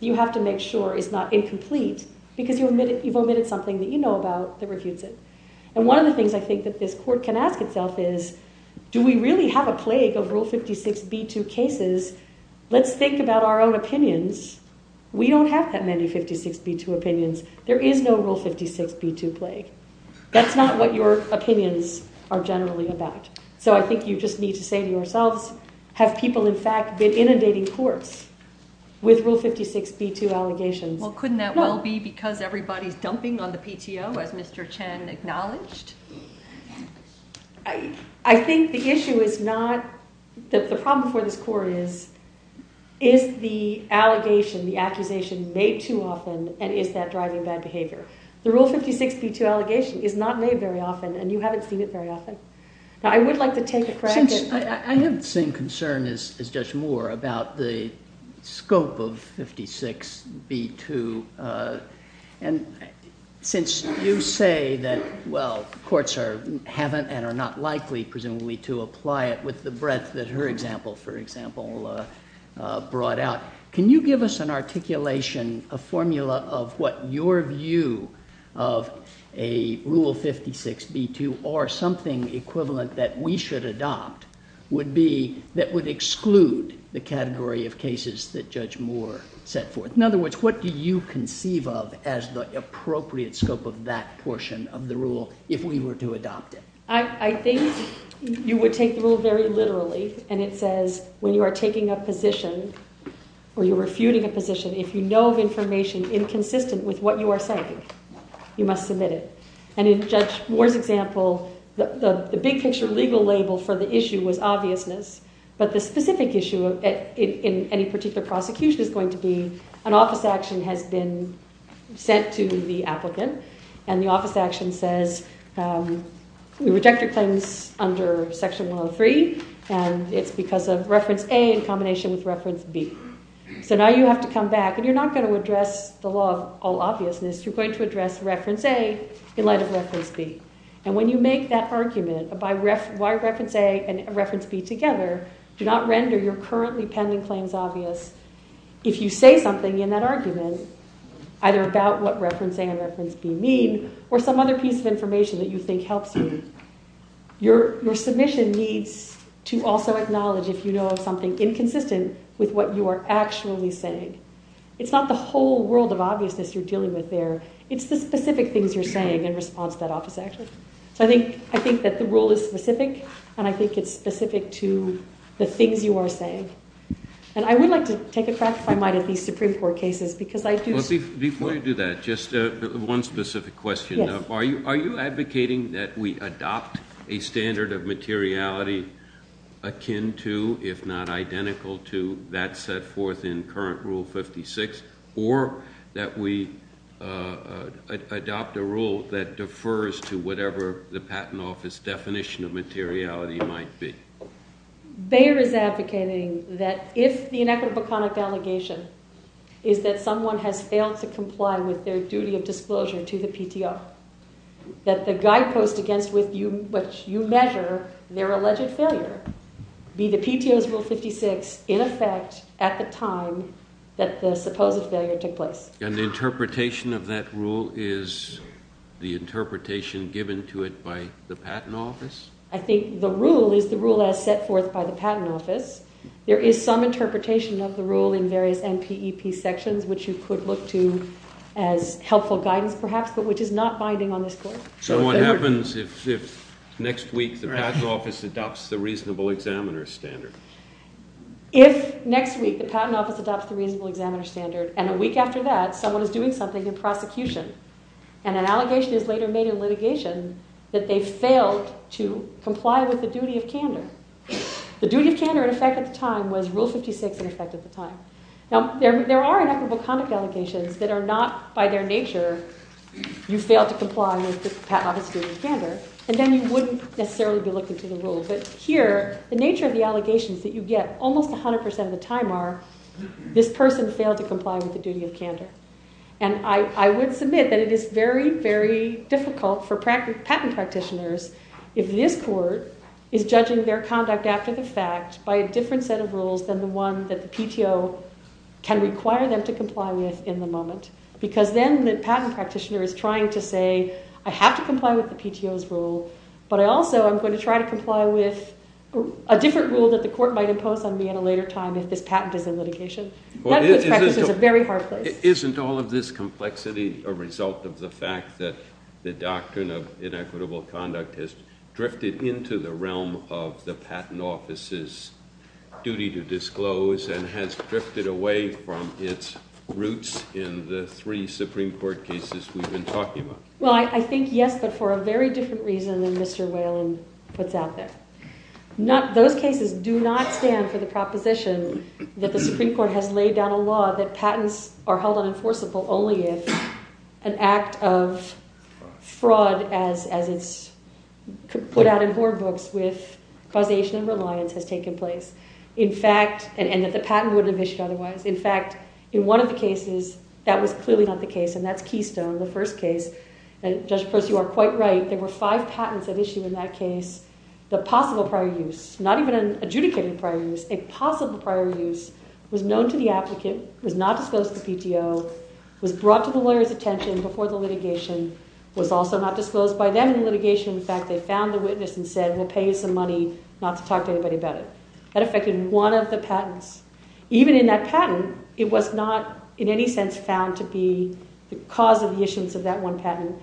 you have to make sure it's not incomplete because you've omitted something that you know about that refutes it and one of the things I think that this court can ask itself is Do we really have a plague of Rule 526B2 cases? Let's think about our own opinions We don't have that many 526B2 opinions There is no Rule 526B2 plague That's not what your opinions are generally about So I think you just need to say to yourself Have people in fact been inundating courts with Rule 526B2 allegations Well couldn't that well be because everybody is dumping on the PTO as Mr. Chen acknowledged I think the issue is not the problem for this court is is the allegation, the accusation made too often and is that driving bad behavior The Rule 526B2 allegation is not made very often and you haven't seen it very often I have the same concern as Judge Moore about the scope of 526B2 and since you say that courts haven't and are not likely to apply it with the breadth that her example brought out, can you give us an articulation a formula of what your view of a Rule 526B2 or something equivalent that we should adopt would be that would exclude the category of cases that Judge Moore set forth In other words, what do you conceive of as the appropriate scope of that portion of the Rule if we were to adopt it I think you would take the Rule very literally and it says when you are taking a position or you are refuting a position if you know of information inconsistent with what you are citing you must submit it and in Judge Moore's example the big picture legal label for the issue was obviousness but the specific issue in any particular prosecution is going to be an office action has been sent to the applicant and the office action says you reject your claims under Section 103 and it's because of Reference A in combination with Reference B so now you have to come back and you are not going to address the law of all obviousness you are going to address Reference A in light of Reference B and when you make that argument why Reference A and Reference B together do not render your currently pending claims obvious if you say something in that argument either about what Reference A and Reference B mean or some other piece of information that you think helps you your submission needs to also acknowledge if you know of something inconsistent with what you are actually saying it's not the whole world of obviousness you are dealing with there it's the specific things you are saying in response to that office action so I think that the Rule is specific and I think it's specific to the things you are saying and I would like to take a crack at these Supreme Court cases because I do... Before you do that, just one specific question are you advocating that we adopt a standard of materiality akin to, if not identical to that set forth in current Rule 56 or that we adopt a rule that defers to whatever the Patent Office definition of materiality might be? Bayer is advocating that if the inequitable conduct allegation is that someone has failed to comply with their duty of disclosure to the PTO that the guidepost against which you measure their alleged failure be the PTO's Rule 56 in effect at the time that the supposed failure took place And the interpretation of that Rule is the interpretation given to it by the Patent Office? I think the Rule is the Rule as set forth by the Patent Office. There is some interpretation of the Rule in various NPEP sections which you could look to as helpful guidance perhaps but which is not binding on this Court. So what happens if next week the Patent Office adopts the reasonable examiner standard? If next week the Patent Office adopts the reasonable examiner standard and a week after that someone is doing something in prosecution and an allegation is later made in litigation that they failed to comply with the duty of candor. The duty of candor in effect at the time was Rule 56 in effect at the time. Now there are inequitable conduct allegations that are not by their nature you fail to comply with the Patent Office standard and then you wouldn't necessarily But here the nature of the allegations that you get almost 100% of the time are this person failed to comply with the duty of candor and I would submit that it is very very difficult for patent practitioners if this Court is judging their conduct after the fact by a different set of rules than the one that the PTO can require them to comply with in the moment because then the patent practitioner is trying to say I have to comply with the PTO's rule but also I'm going to try to comply with a different rule that the Court might impose on me at a later time if this patent is in litigation That's a very hard thing. Isn't all of this complexity a result of the fact that the doctrine of inequitable conduct has drifted into the realm of the Patent Office's duty to disclose and has drifted away from its roots in the Well I think yes but for a very different reason than Mr. Whalen puts out there Those cases do not stand for the proposition that the Supreme Court has laid down a law that patents are held unenforceable only if an act of fraud as it's put out in horror books with causation of reliance has taken place and that the patent would have issued otherwise In fact, in one of the cases that was clearly not the case and that's Keystone, the first case there were five patents that issued in that case the possible prior use, not even an adjudicated prior use a possible prior use was known to the applicant was not disclosed to PTO, was brought to the lawyer's attention before the litigation, was also not disclosed by them in litigation. In fact, they found the witness and said we'll pay you some money not to talk to anybody about it That affected one of the patents. Even in that patent it was not in any sense found to be the cause of the issuance of that one patent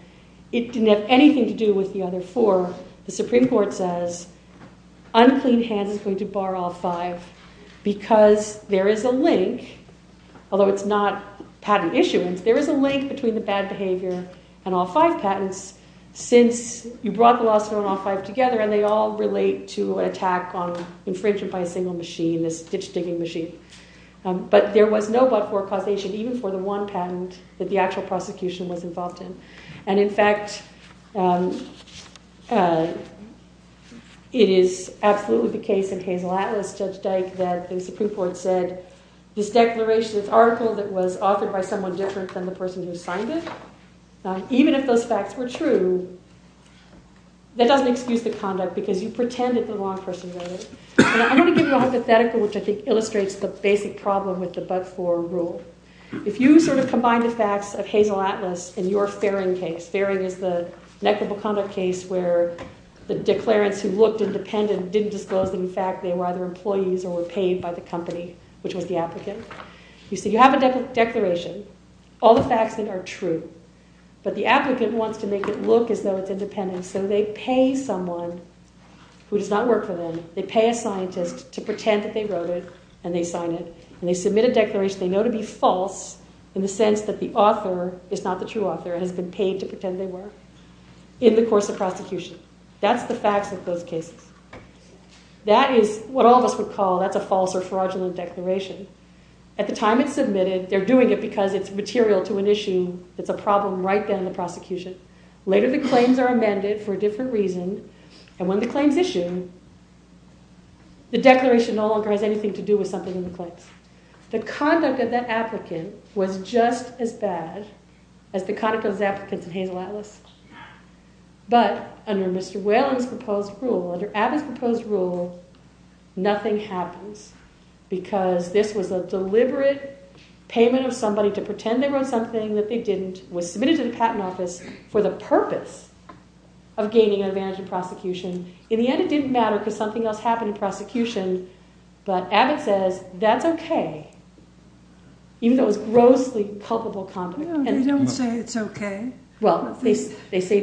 It didn't have anything to do with the other four The Supreme Court says unclean hand is going to bar all five because there is a link although it's not patent issuance there is a link between the bad behavior and all five patents since you brought the law firm and all five together and they all relate to an attack on infringement by a single machine, a stitch digging machine but there was no but-for causation even for the one patent that the actual prosecution was involved in and in fact it is absolutely the case in Hazel Atlas that the Supreme Court said this declaration, this article that was authored by someone different than the person who signed it Even if those facts were true that doesn't excuse the conduct because you pretended the wrong person wrote it I want to give you a hypothetical that illustrates the basic problem with the but-for rule If you combine the facts of Hazel Atlas in your Faring case where the declarants who looked independent didn't disclose the fact that they were either employees or paid by the company which was the applicant you have a declaration all the facts in it are true but the applicant wants to make it look as though it's independent so they pay someone who does not work for them they pay a scientist to pretend that they wrote it and they sign it and they submit a declaration they know to be false in the sense that the author is not the true author and has been paid to pretend they were in the course of prosecution that's the facts of those cases that is what all of us would call a false or fraudulent declaration at the time it's submitted, they're doing it because it's material to an issue it's a problem right then in the prosecution later the claims are amended for different reasons and when the claims issue the declaration no longer has anything to do with something in the court the conduct of the applicant was just as bad but under Mr. Whalen's proposed rule under Abbott's proposed rule nothing happens because this was a deliberate payment of somebody to pretend they were in something that they didn't, was submitted to the patent office for the purpose of gaining an advantage in prosecution in the end it didn't matter because something else happened in prosecution but Abbott says that's okay even though it was grossly culpable they don't say it's okay they say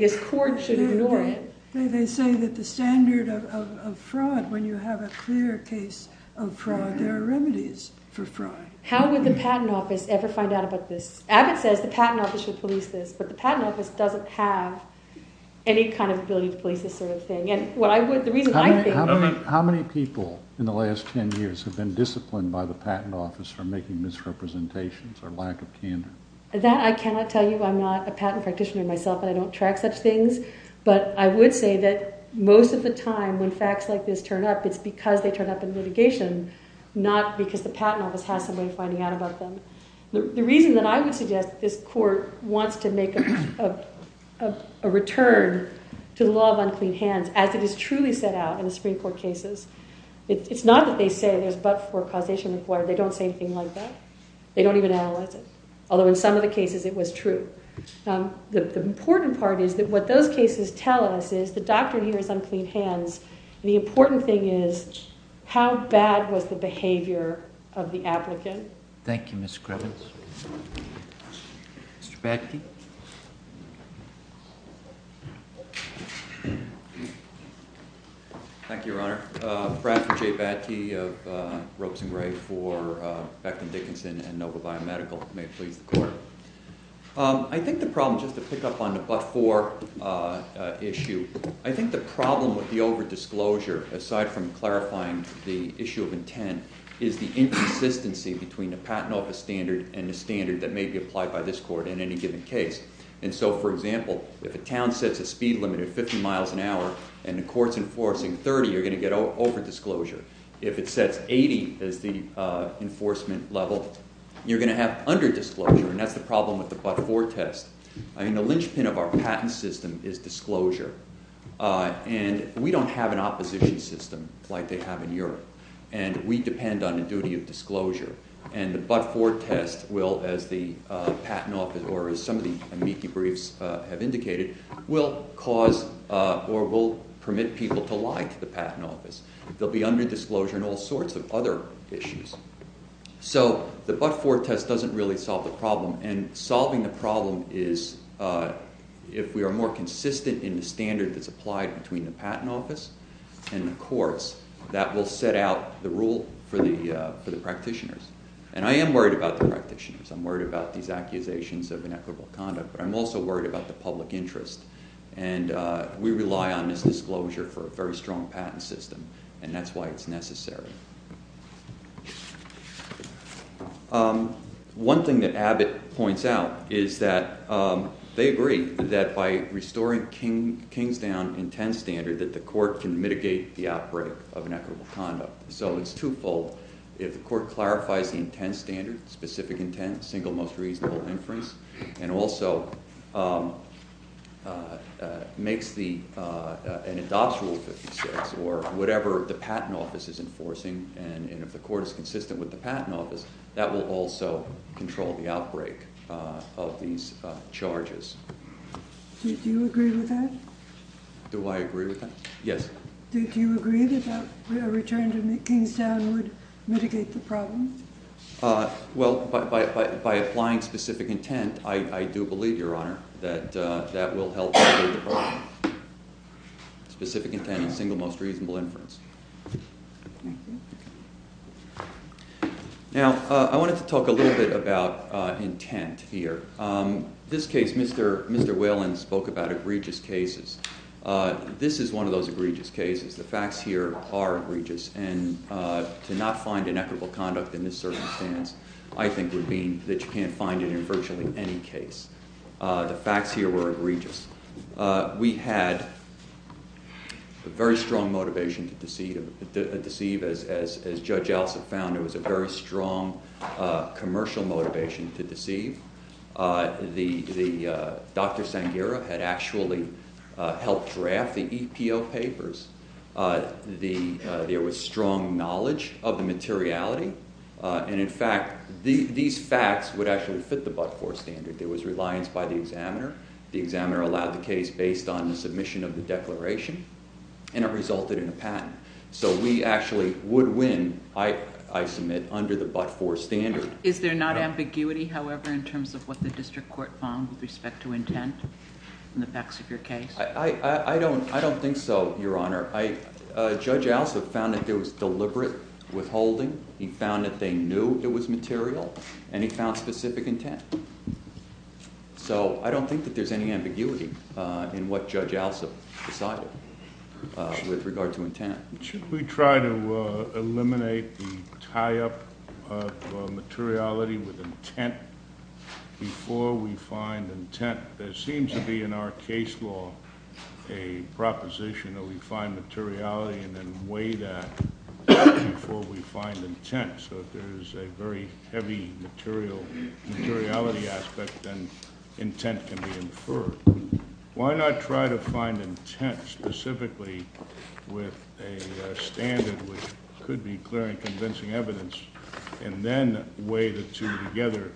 that the standard of fraud when you have a clear case of fraud there are remedies for fraud how would the patent office ever find out about this Abbott says the patent office should police this but the patent office doesn't have any kind of ability to police this how many people in the last 10 years have been disciplined by the patent office for making misrepresentations or lack of candor I cannot tell you, I'm not a patent practitioner myself but I would say that most of the time when facts like this turn up it's because they turn up in litigation not because the patent office has a way of finding out about them the reason I would suggest this court wants to make a return to the law of unclean hands as it is truly set out in the Supreme Court cases it's not that they say there's but for a causation of fraud they don't say anything like that although in some of the cases it was true the important part is that what those cases tell us is the doctrine here is unclean hands the important thing is how bad was the behavior of the applicant thank you Ms. Grevin Mr. Bakke Thank you Your Honor Bradford J. Bakke of Ropes and Rays for Beckman Dickinson and Nova Biomedical I think the problem just to pick up on the before issue I think the problem with the overdisclosure aside from clarifying the issue of intent is the inconsistency between the patent office standard and the standard that may be applied by this court in any given case and so for example if the count says the speed limit is 50 miles an hour and the court is enforcing 30 you're going to get overdisclosure if it says 80 is the enforcement level you're going to have underdisclosure and that's the problem with the but-for test the linchpin of our patent system is disclosure and we don't have an opposition system like they have in Europe and we depend on the duty of disclosure and the but-for test will as the patent office or as some of the amici briefs have indicated will cause or will permit people to lie to the patent office they'll be underdisclosure and all sorts of other issues so the but-for test doesn't really solve the problem and solving the problem is if we are more consistent in the standard that's applied between the patent office and the courts that will set out the rule for the practitioners and I am worried about the practitioners I'm worried about these accusations of inequitable conduct but I'm also worried about the public interest and we rely on this disclosure for a very strong patent system and that's why it's necessary one thing that Abbott points out is that they agree that by restoring Kingtown intent standard the court can mitigate the outbreak of inequitable conduct so it's two-fold if the court clarifies the intent standard and also makes the whatever the patent office is enforcing and if the court is consistent with the patent office that will also control the outbreak of these charges Do you agree with that? Do I agree with that? Yes Do you agree that a return to Kingtown would mitigate the problem? Well, by applying specific intent I do believe, Your Honor that will help specific intent is the single most reasonable influence Now I wanted to talk a little bit about intent This case, Mr. Whalen spoke about egregious cases This is one of those egregious cases the facts here are egregious and to not find inequitable conduct in this circumstance I think would mean that you can't find it in virtually any case The facts here were egregious We had a very strong motivation to deceive as Judge Ellison found there was a very strong commercial motivation to deceive Dr. Sanghira had actually helped draft the EPO papers There was strong knowledge of the materiality and in fact, these facts would actually fit the Budford standard It was reliance by the examiner The examiner allowed the case based on the submission of the declaration and it resulted in a patent So we actually would win, I submit, under the Budford standard Is there not ambiguity, however in terms of what the district court found with respect to intent in the facts of your case? I don't think so, Your Honor Judge Alsop found that there was deliberate withholding He found that they knew it was material and he found specific intent So I don't think that there's any ambiguity in what Judge Alsop decided with regard to intent Should we try to eliminate the tie-up of materiality with intent before we find intent? There seems to be in our case law a proposition that we find materiality and then weigh that before we find intent So if there's a very heavy materiality aspect then intent can be inferred Why not try to find intent specifically with a standard which could be clear and convincing evidence and then weigh the two together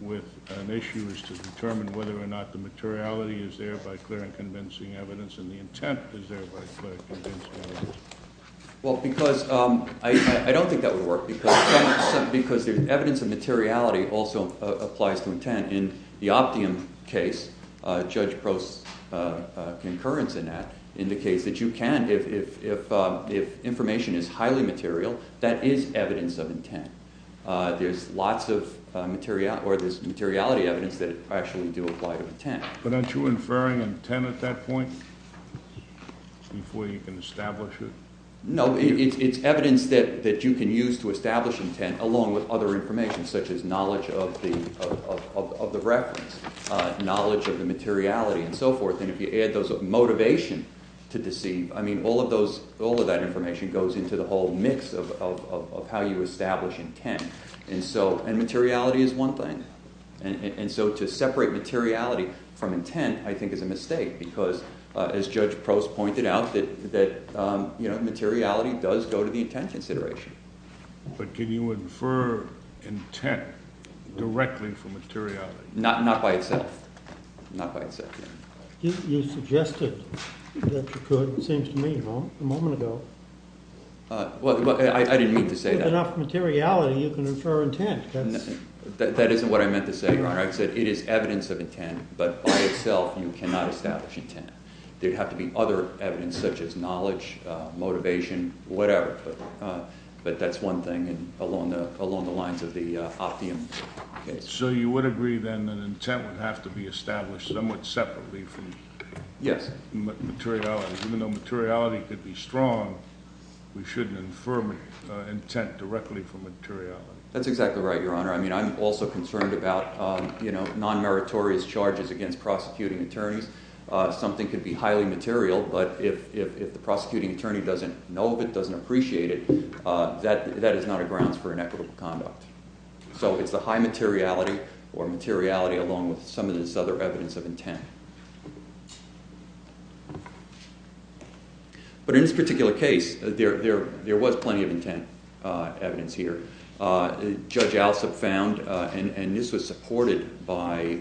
with an issue as to determine whether or not the materiality is there by clear and convincing evidence and the intent is there by clear and convincing evidence I don't think that would work because evidence of materiality also applies to intent In the Optium case, Judge Prost's concurrence indicates that you can if information is highly material that is evidence of intent There's materiality evidence that actually do apply to intent But aren't you inferring intent at that point Before you can establish it? No, it's evidence that you can use to establish intent along with other information such as knowledge of the reference knowledge of the materiality and so forth and if you add those up, motivation to deceive all of that information goes into the whole mix of how you establish intent and materiality is one thing So to separate materiality from intent I think is a mistake because as Judge Prost pointed out materiality does go to the intent consideration But can you infer intent directly from materiality? Not by itself You suggested that you could it seems to me a moment ago I didn't mean to say that If there is enough materiality you can infer intent That isn't what I meant to say It is evidence of intent but by itself you cannot establish intent There would have to be other evidence such as knowledge, motivation, whatever But that's one thing along the lines of the Optium case So you would agree that an intent would have to be established somewhat separately from materiality Even though materiality could be strong we shouldn't infer intent directly from materiality That's exactly right, Your Honor I'm also concerned about non-meritorious charges against prosecuting attorneys Something could be highly material but if the prosecuting attorney doesn't know of it doesn't appreciate it that is not a grounds for inevitable conduct So it's a high materiality or materiality along with some of this other evidence of intent But in this particular case there was plenty of intent evidence here Judge Alsop found and this was supported by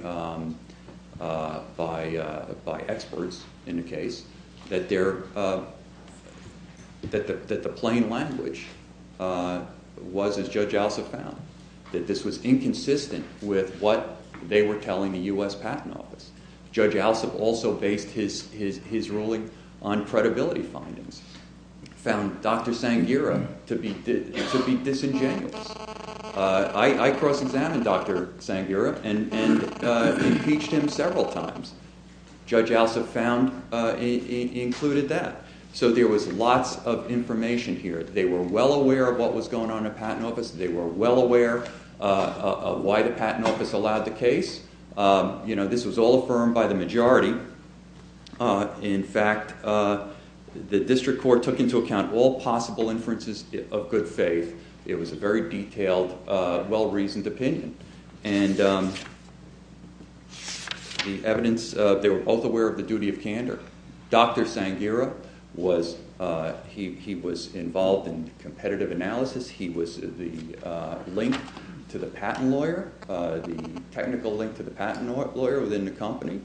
experts in the case that the plain language was, as Judge Alsop found that this was inconsistent with what they were telling the U.S. Patent Office Judge Alsop also based his ruling on credibility findings He found Dr. Sanghira to be disingenuous I cross-examined Dr. Sanghira and impeached him several times Judge Alsop included that So there was lots of information here They were well aware of what was going on in the Patent Office They were well aware of why the Patent Office allowed the case This was all affirmed by the majority In fact the District Court took into account all possible inferences of good faith It was a very detailed, well-reasoned opinion They were both aware of the duty of candor Dr. Sanghira was involved in competitive analysis He was the link to the patent lawyer the technical link to the patent lawyer within the company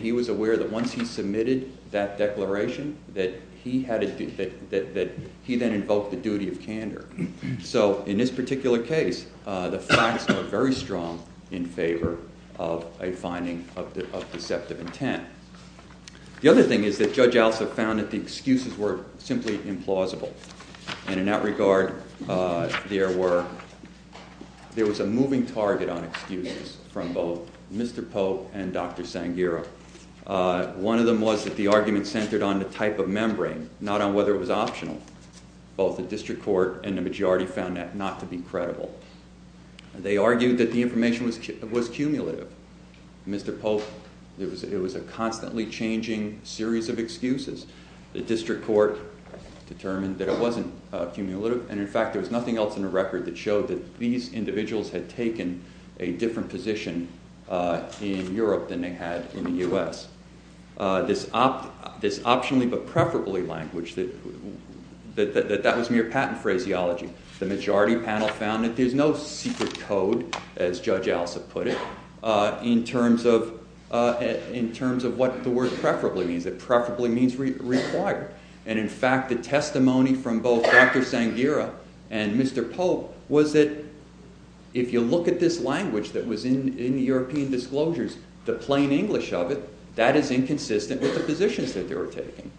He was aware that once he submitted that declaration that he then invoked the duty of candor So in this particular case the facts are very strong in favor of a finding of deceptive intent The other thing is that Judge Alsop found that the excuses were simply implausible In that regard there was a moving target on excuses from both Mr. Poe and Dr. Sanghira One of them was that the argument centered on the type of membrane not on whether it was optional Both the District Court and the majority found that not to be credible They argued that the information was cumulative Mr. Poe, it was a constantly changing series of excuses The District Court determined that it wasn't cumulative and in fact there was nothing else in the record that showed that these individuals had taken a different position in Europe than they had in the US This optionally but preferably language that was mere patent phraseology The majority panel found that there is no secret code, as Judge Alsop put it in terms of what the word preferably means Preferably means required And in fact the testimony from both Dr. Sanghira and Mr. Poe was that if you look at this language that was in the European disclosures the plain English of it, that is inconsistent with the positions that they were taking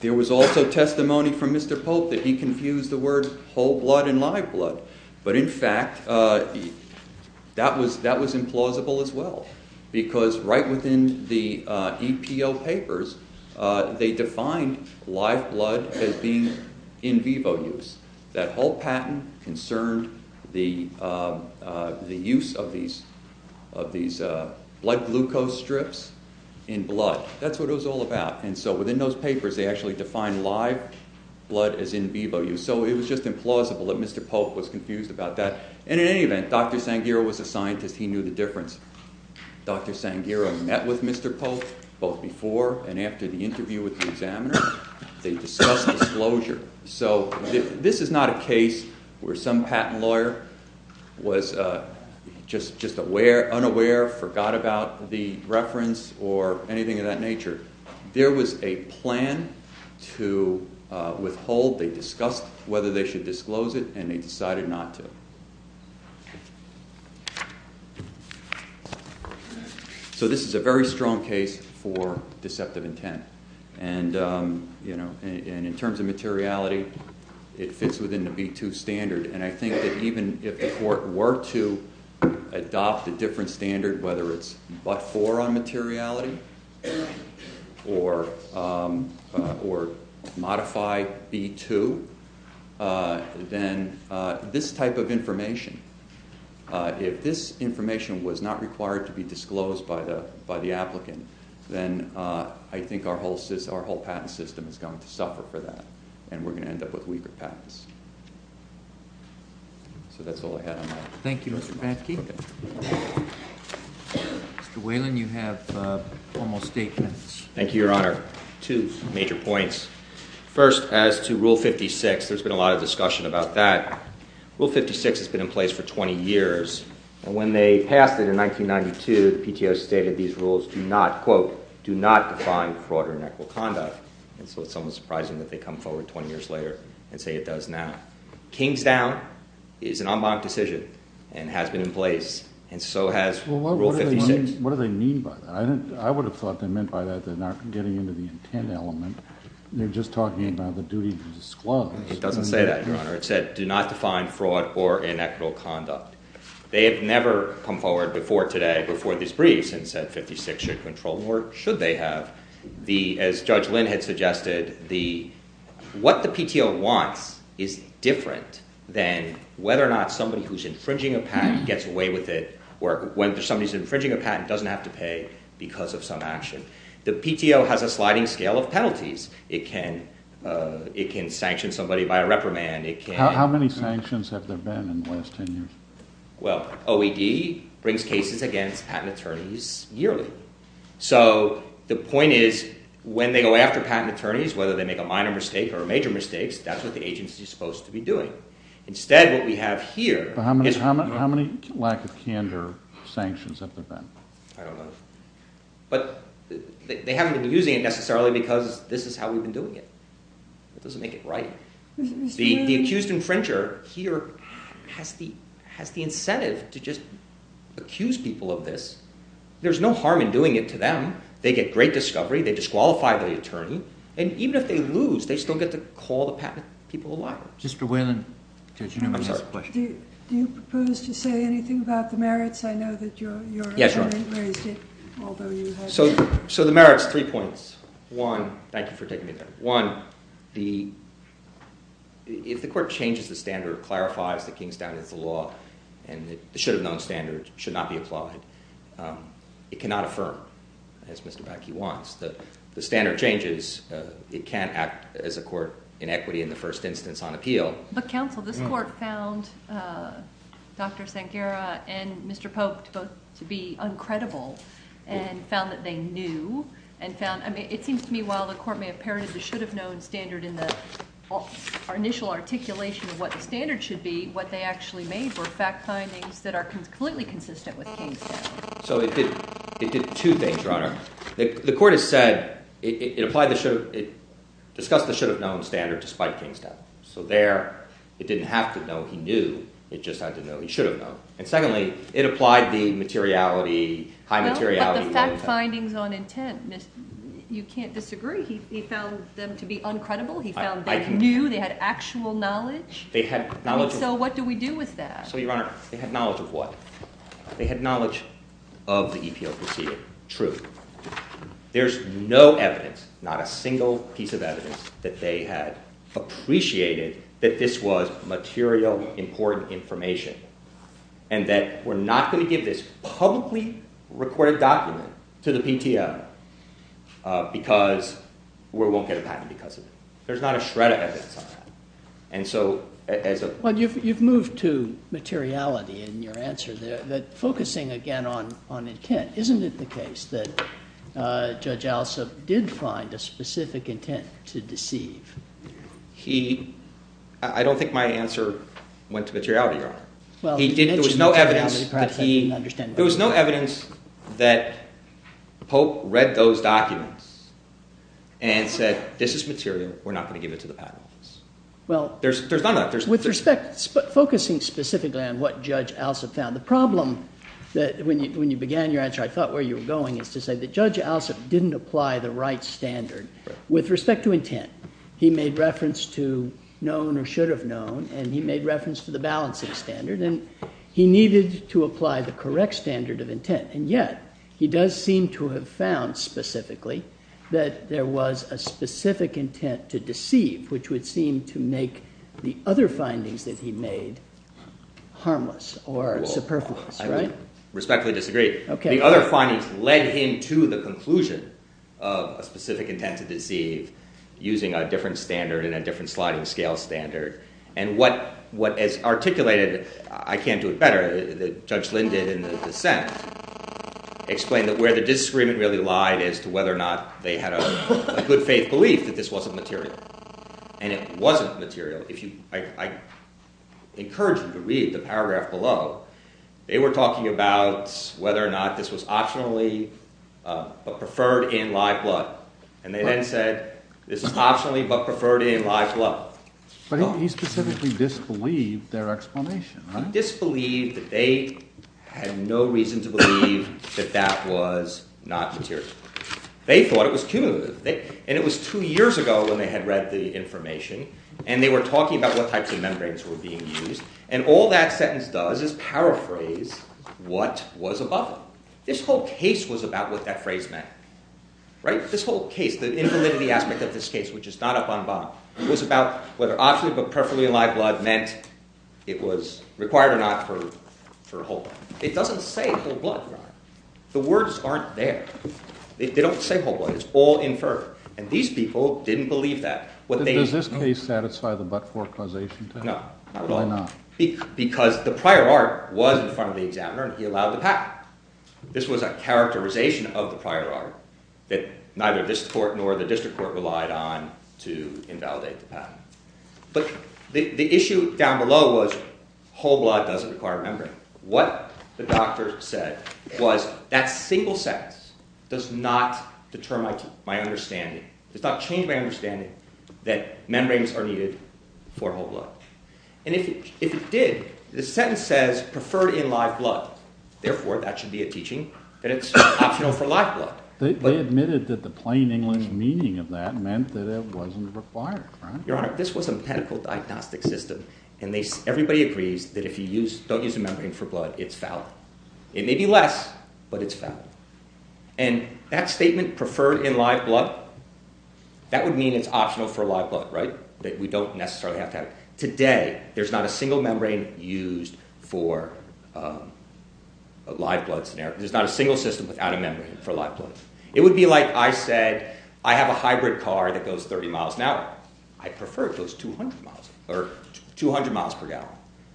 There was also testimony from Mr. Poe that he confused the words whole blood and live blood but in fact that was implausible as well because right within the EPO papers they defined live blood as being in vivo use That whole patent concerned the use of these blood glucose strips in blood That's what it was all about So within those papers they actually defined live blood as in vivo use So it was just implausible that Mr. Poe was confused about that And in any event, Dr. Sanghira was the scientist, he knew the difference Dr. Sanghira met with Mr. Poe both before and after the interview with the examiners They discussed disclosure This is not a case where some patent lawyer was just unaware forgot about the reference or anything of that nature There was a plan to withhold, they discussed whether they should disclose it and they decided not to So this is a very strong case for deceptive intent And in terms of materiality it fits within the V2 standard and I think that even if the court were to adopt a different standard, whether it's but-for on materiality or modify V2 then this type of information if this information was not required to be disclosed by the applicant then I think our whole patent system is going to suffer for that and we're going to end up with weaker patents So that's all I had on that Thank you, Mr. Batke Mr. Whalen, you have almost eight minutes Thank you, Your Honor First, as to Rule 56, there's been a lot of discussion about that Rule 56 has been in place for 20 years and when they passed it in 1992 the PTO stated these rules do not, quote do not define fraud or inactual conduct so it's almost surprising that they come forward 20 years later and say it does now Kingsdown is an en banc decision and has been in place and so has Rule 56 I would have thought they meant by that they're not getting into the intent element they're just talking about the duty to disclose No, it doesn't say that, Your Honor It says do not define fraud or inactual conduct They've never come forward before today, before this brief and said 56 should control, or should they have As Judge Lynn had suggested what the PTO wants is different than whether or not somebody who's infringing a patent gets away with it, or when somebody's infringing a patent doesn't have to pay because of some action The PTO has a sliding scale of penalties It can sanction somebody by reprimand How many sanctions have there been in the last 10 years? Well, OED brings cases against patent attorneys yearly So the point is, when they go after patent attorneys whether they make a minor mistake or a major mistake that's what the agency is supposed to be doing How many lack of candor sanctions have there been? But they haven't been using it necessarily because this is how we've been doing it It doesn't make it right The accused infringer here has the incentive to just accuse people of this There's no harm in doing it to them They get great discovery, they disqualify the attorney and even if they lose, they still get to call the patent people a liar Do you propose to say anything about the merits? Yes, I know that you're... So the merits, three points One, thank you for taking the time One, if the court changes the standard clarifies the King standard of the law and it should not be applied It cannot affirm, as Mr. Bakke wants The standard changes, it can't act as a court in equity in the first instance on appeal But counsel, this court found Dr. Sanghera and Mr. Pope both to be uncredible and found that they knew It seems to me while the court may have parroted the should have known standard in our initial articulation of what the standard should be what they actually made were fact findings So it did two things, your honor The court has said it discussed the should have known standard So there, it didn't have to know he knew it just had to know he should have known And secondly, it applied the high materiality You can't disagree He found them to be uncredible He found they knew, they had actual knowledge So what do we do with that? So your honor, they had knowledge of what? They had knowledge of the EPO procedure There's no evidence, not a single piece of evidence that they had appreciated that this was material, important information and that we're not going to give this publicly required document to the PTO because we won't get a patent There's not a shred of evidence You've moved to materiality in your answer Focusing again on intent Isn't it the case that Judge Alsop did find a specific intent to deceive I don't think my answer went to materiality There was no evidence There was no evidence that Pope read those documents and said this is material we're not going to give it to the patent Focusing specifically on what Judge Alsop found The problem when you began your answer I thought where you were going is to say that Judge Alsop didn't apply the right standard with respect to intent He made reference to known or should have known and he made reference to the balancing standard He needed to apply the correct standard of intent and yet he does seem to have found specifically that there was a specific intent to deceive which would seem to make the other findings that he made harmless or superfluous The other findings led him to the conclusion of a specific intent to deceive using a different standard and what is articulated I can't do it better Judge Linden in his dissent explained where the disagreement really lied as to whether or not they had a good faith belief that this wasn't material and it wasn't material I encourage you to read the paragraph below They were talking about whether or not this was optionally but preferred in live blood and they then said this is optionally but preferred in live blood But he specifically disbelieved their explanation Disbelieved that they had no reason to believe that that was not material They thought it was cumulative and it was two years ago when they had read the information and they were talking about what types of membranes were being used and all that sentence does is paraphrase what was above them This whole case was about what that phrase meant This whole case, the intimidaty aspect of this case was about whether optionally but preferred in live blood meant it was required or not for whole blood It doesn't say whole blood The words aren't there They don't say whole blood It's all inferred And these people didn't believe that No, not at all Because the prior art was in front of the examiner and he allowed the patent This was a characterization of the prior art that neither this court nor the district court relied on to invalidate the patent But the issue down below was Whole blood doesn't require membranes What the doctor said was that single sentence does not change my understanding that membranes are needed for whole blood And if it did the sentence says preferred in live blood therefore that should be a teaching They admitted that the plain English meaning of that meant that it wasn't required This was a medical diagnostic system and everybody agrees that if you don't use a membrane for blood it's valid It may be less, but it's valid And that statement, preferred in live blood that would mean it's optional for live blood Today, there's not a single membrane used for live blood There's not a single system without a membrane It would be like I said I have a hybrid car that goes 30 miles per hour I prefer it goes 200 miles per hour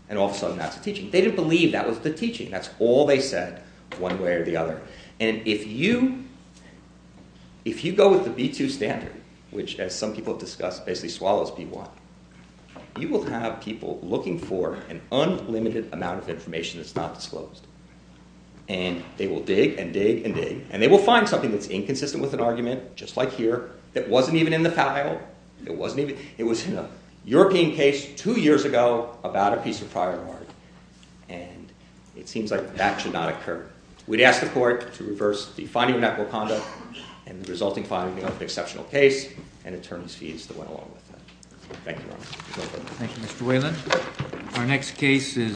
And all of a sudden that's a teaching They didn't believe that was the teaching And if you go with the B2 standard which as some people have discussed basically swallows B1 You will have people looking for an unlimited amount of information And they will dig and dig and dig And they will find something that's inconsistent with an argument It wasn't even in the file It was in a European case two years ago about a piece of firewood And it seems like that should not occur We'd ask the court to reverse the finding of that wakanda and the resulting finding would be an exceptional case Thank you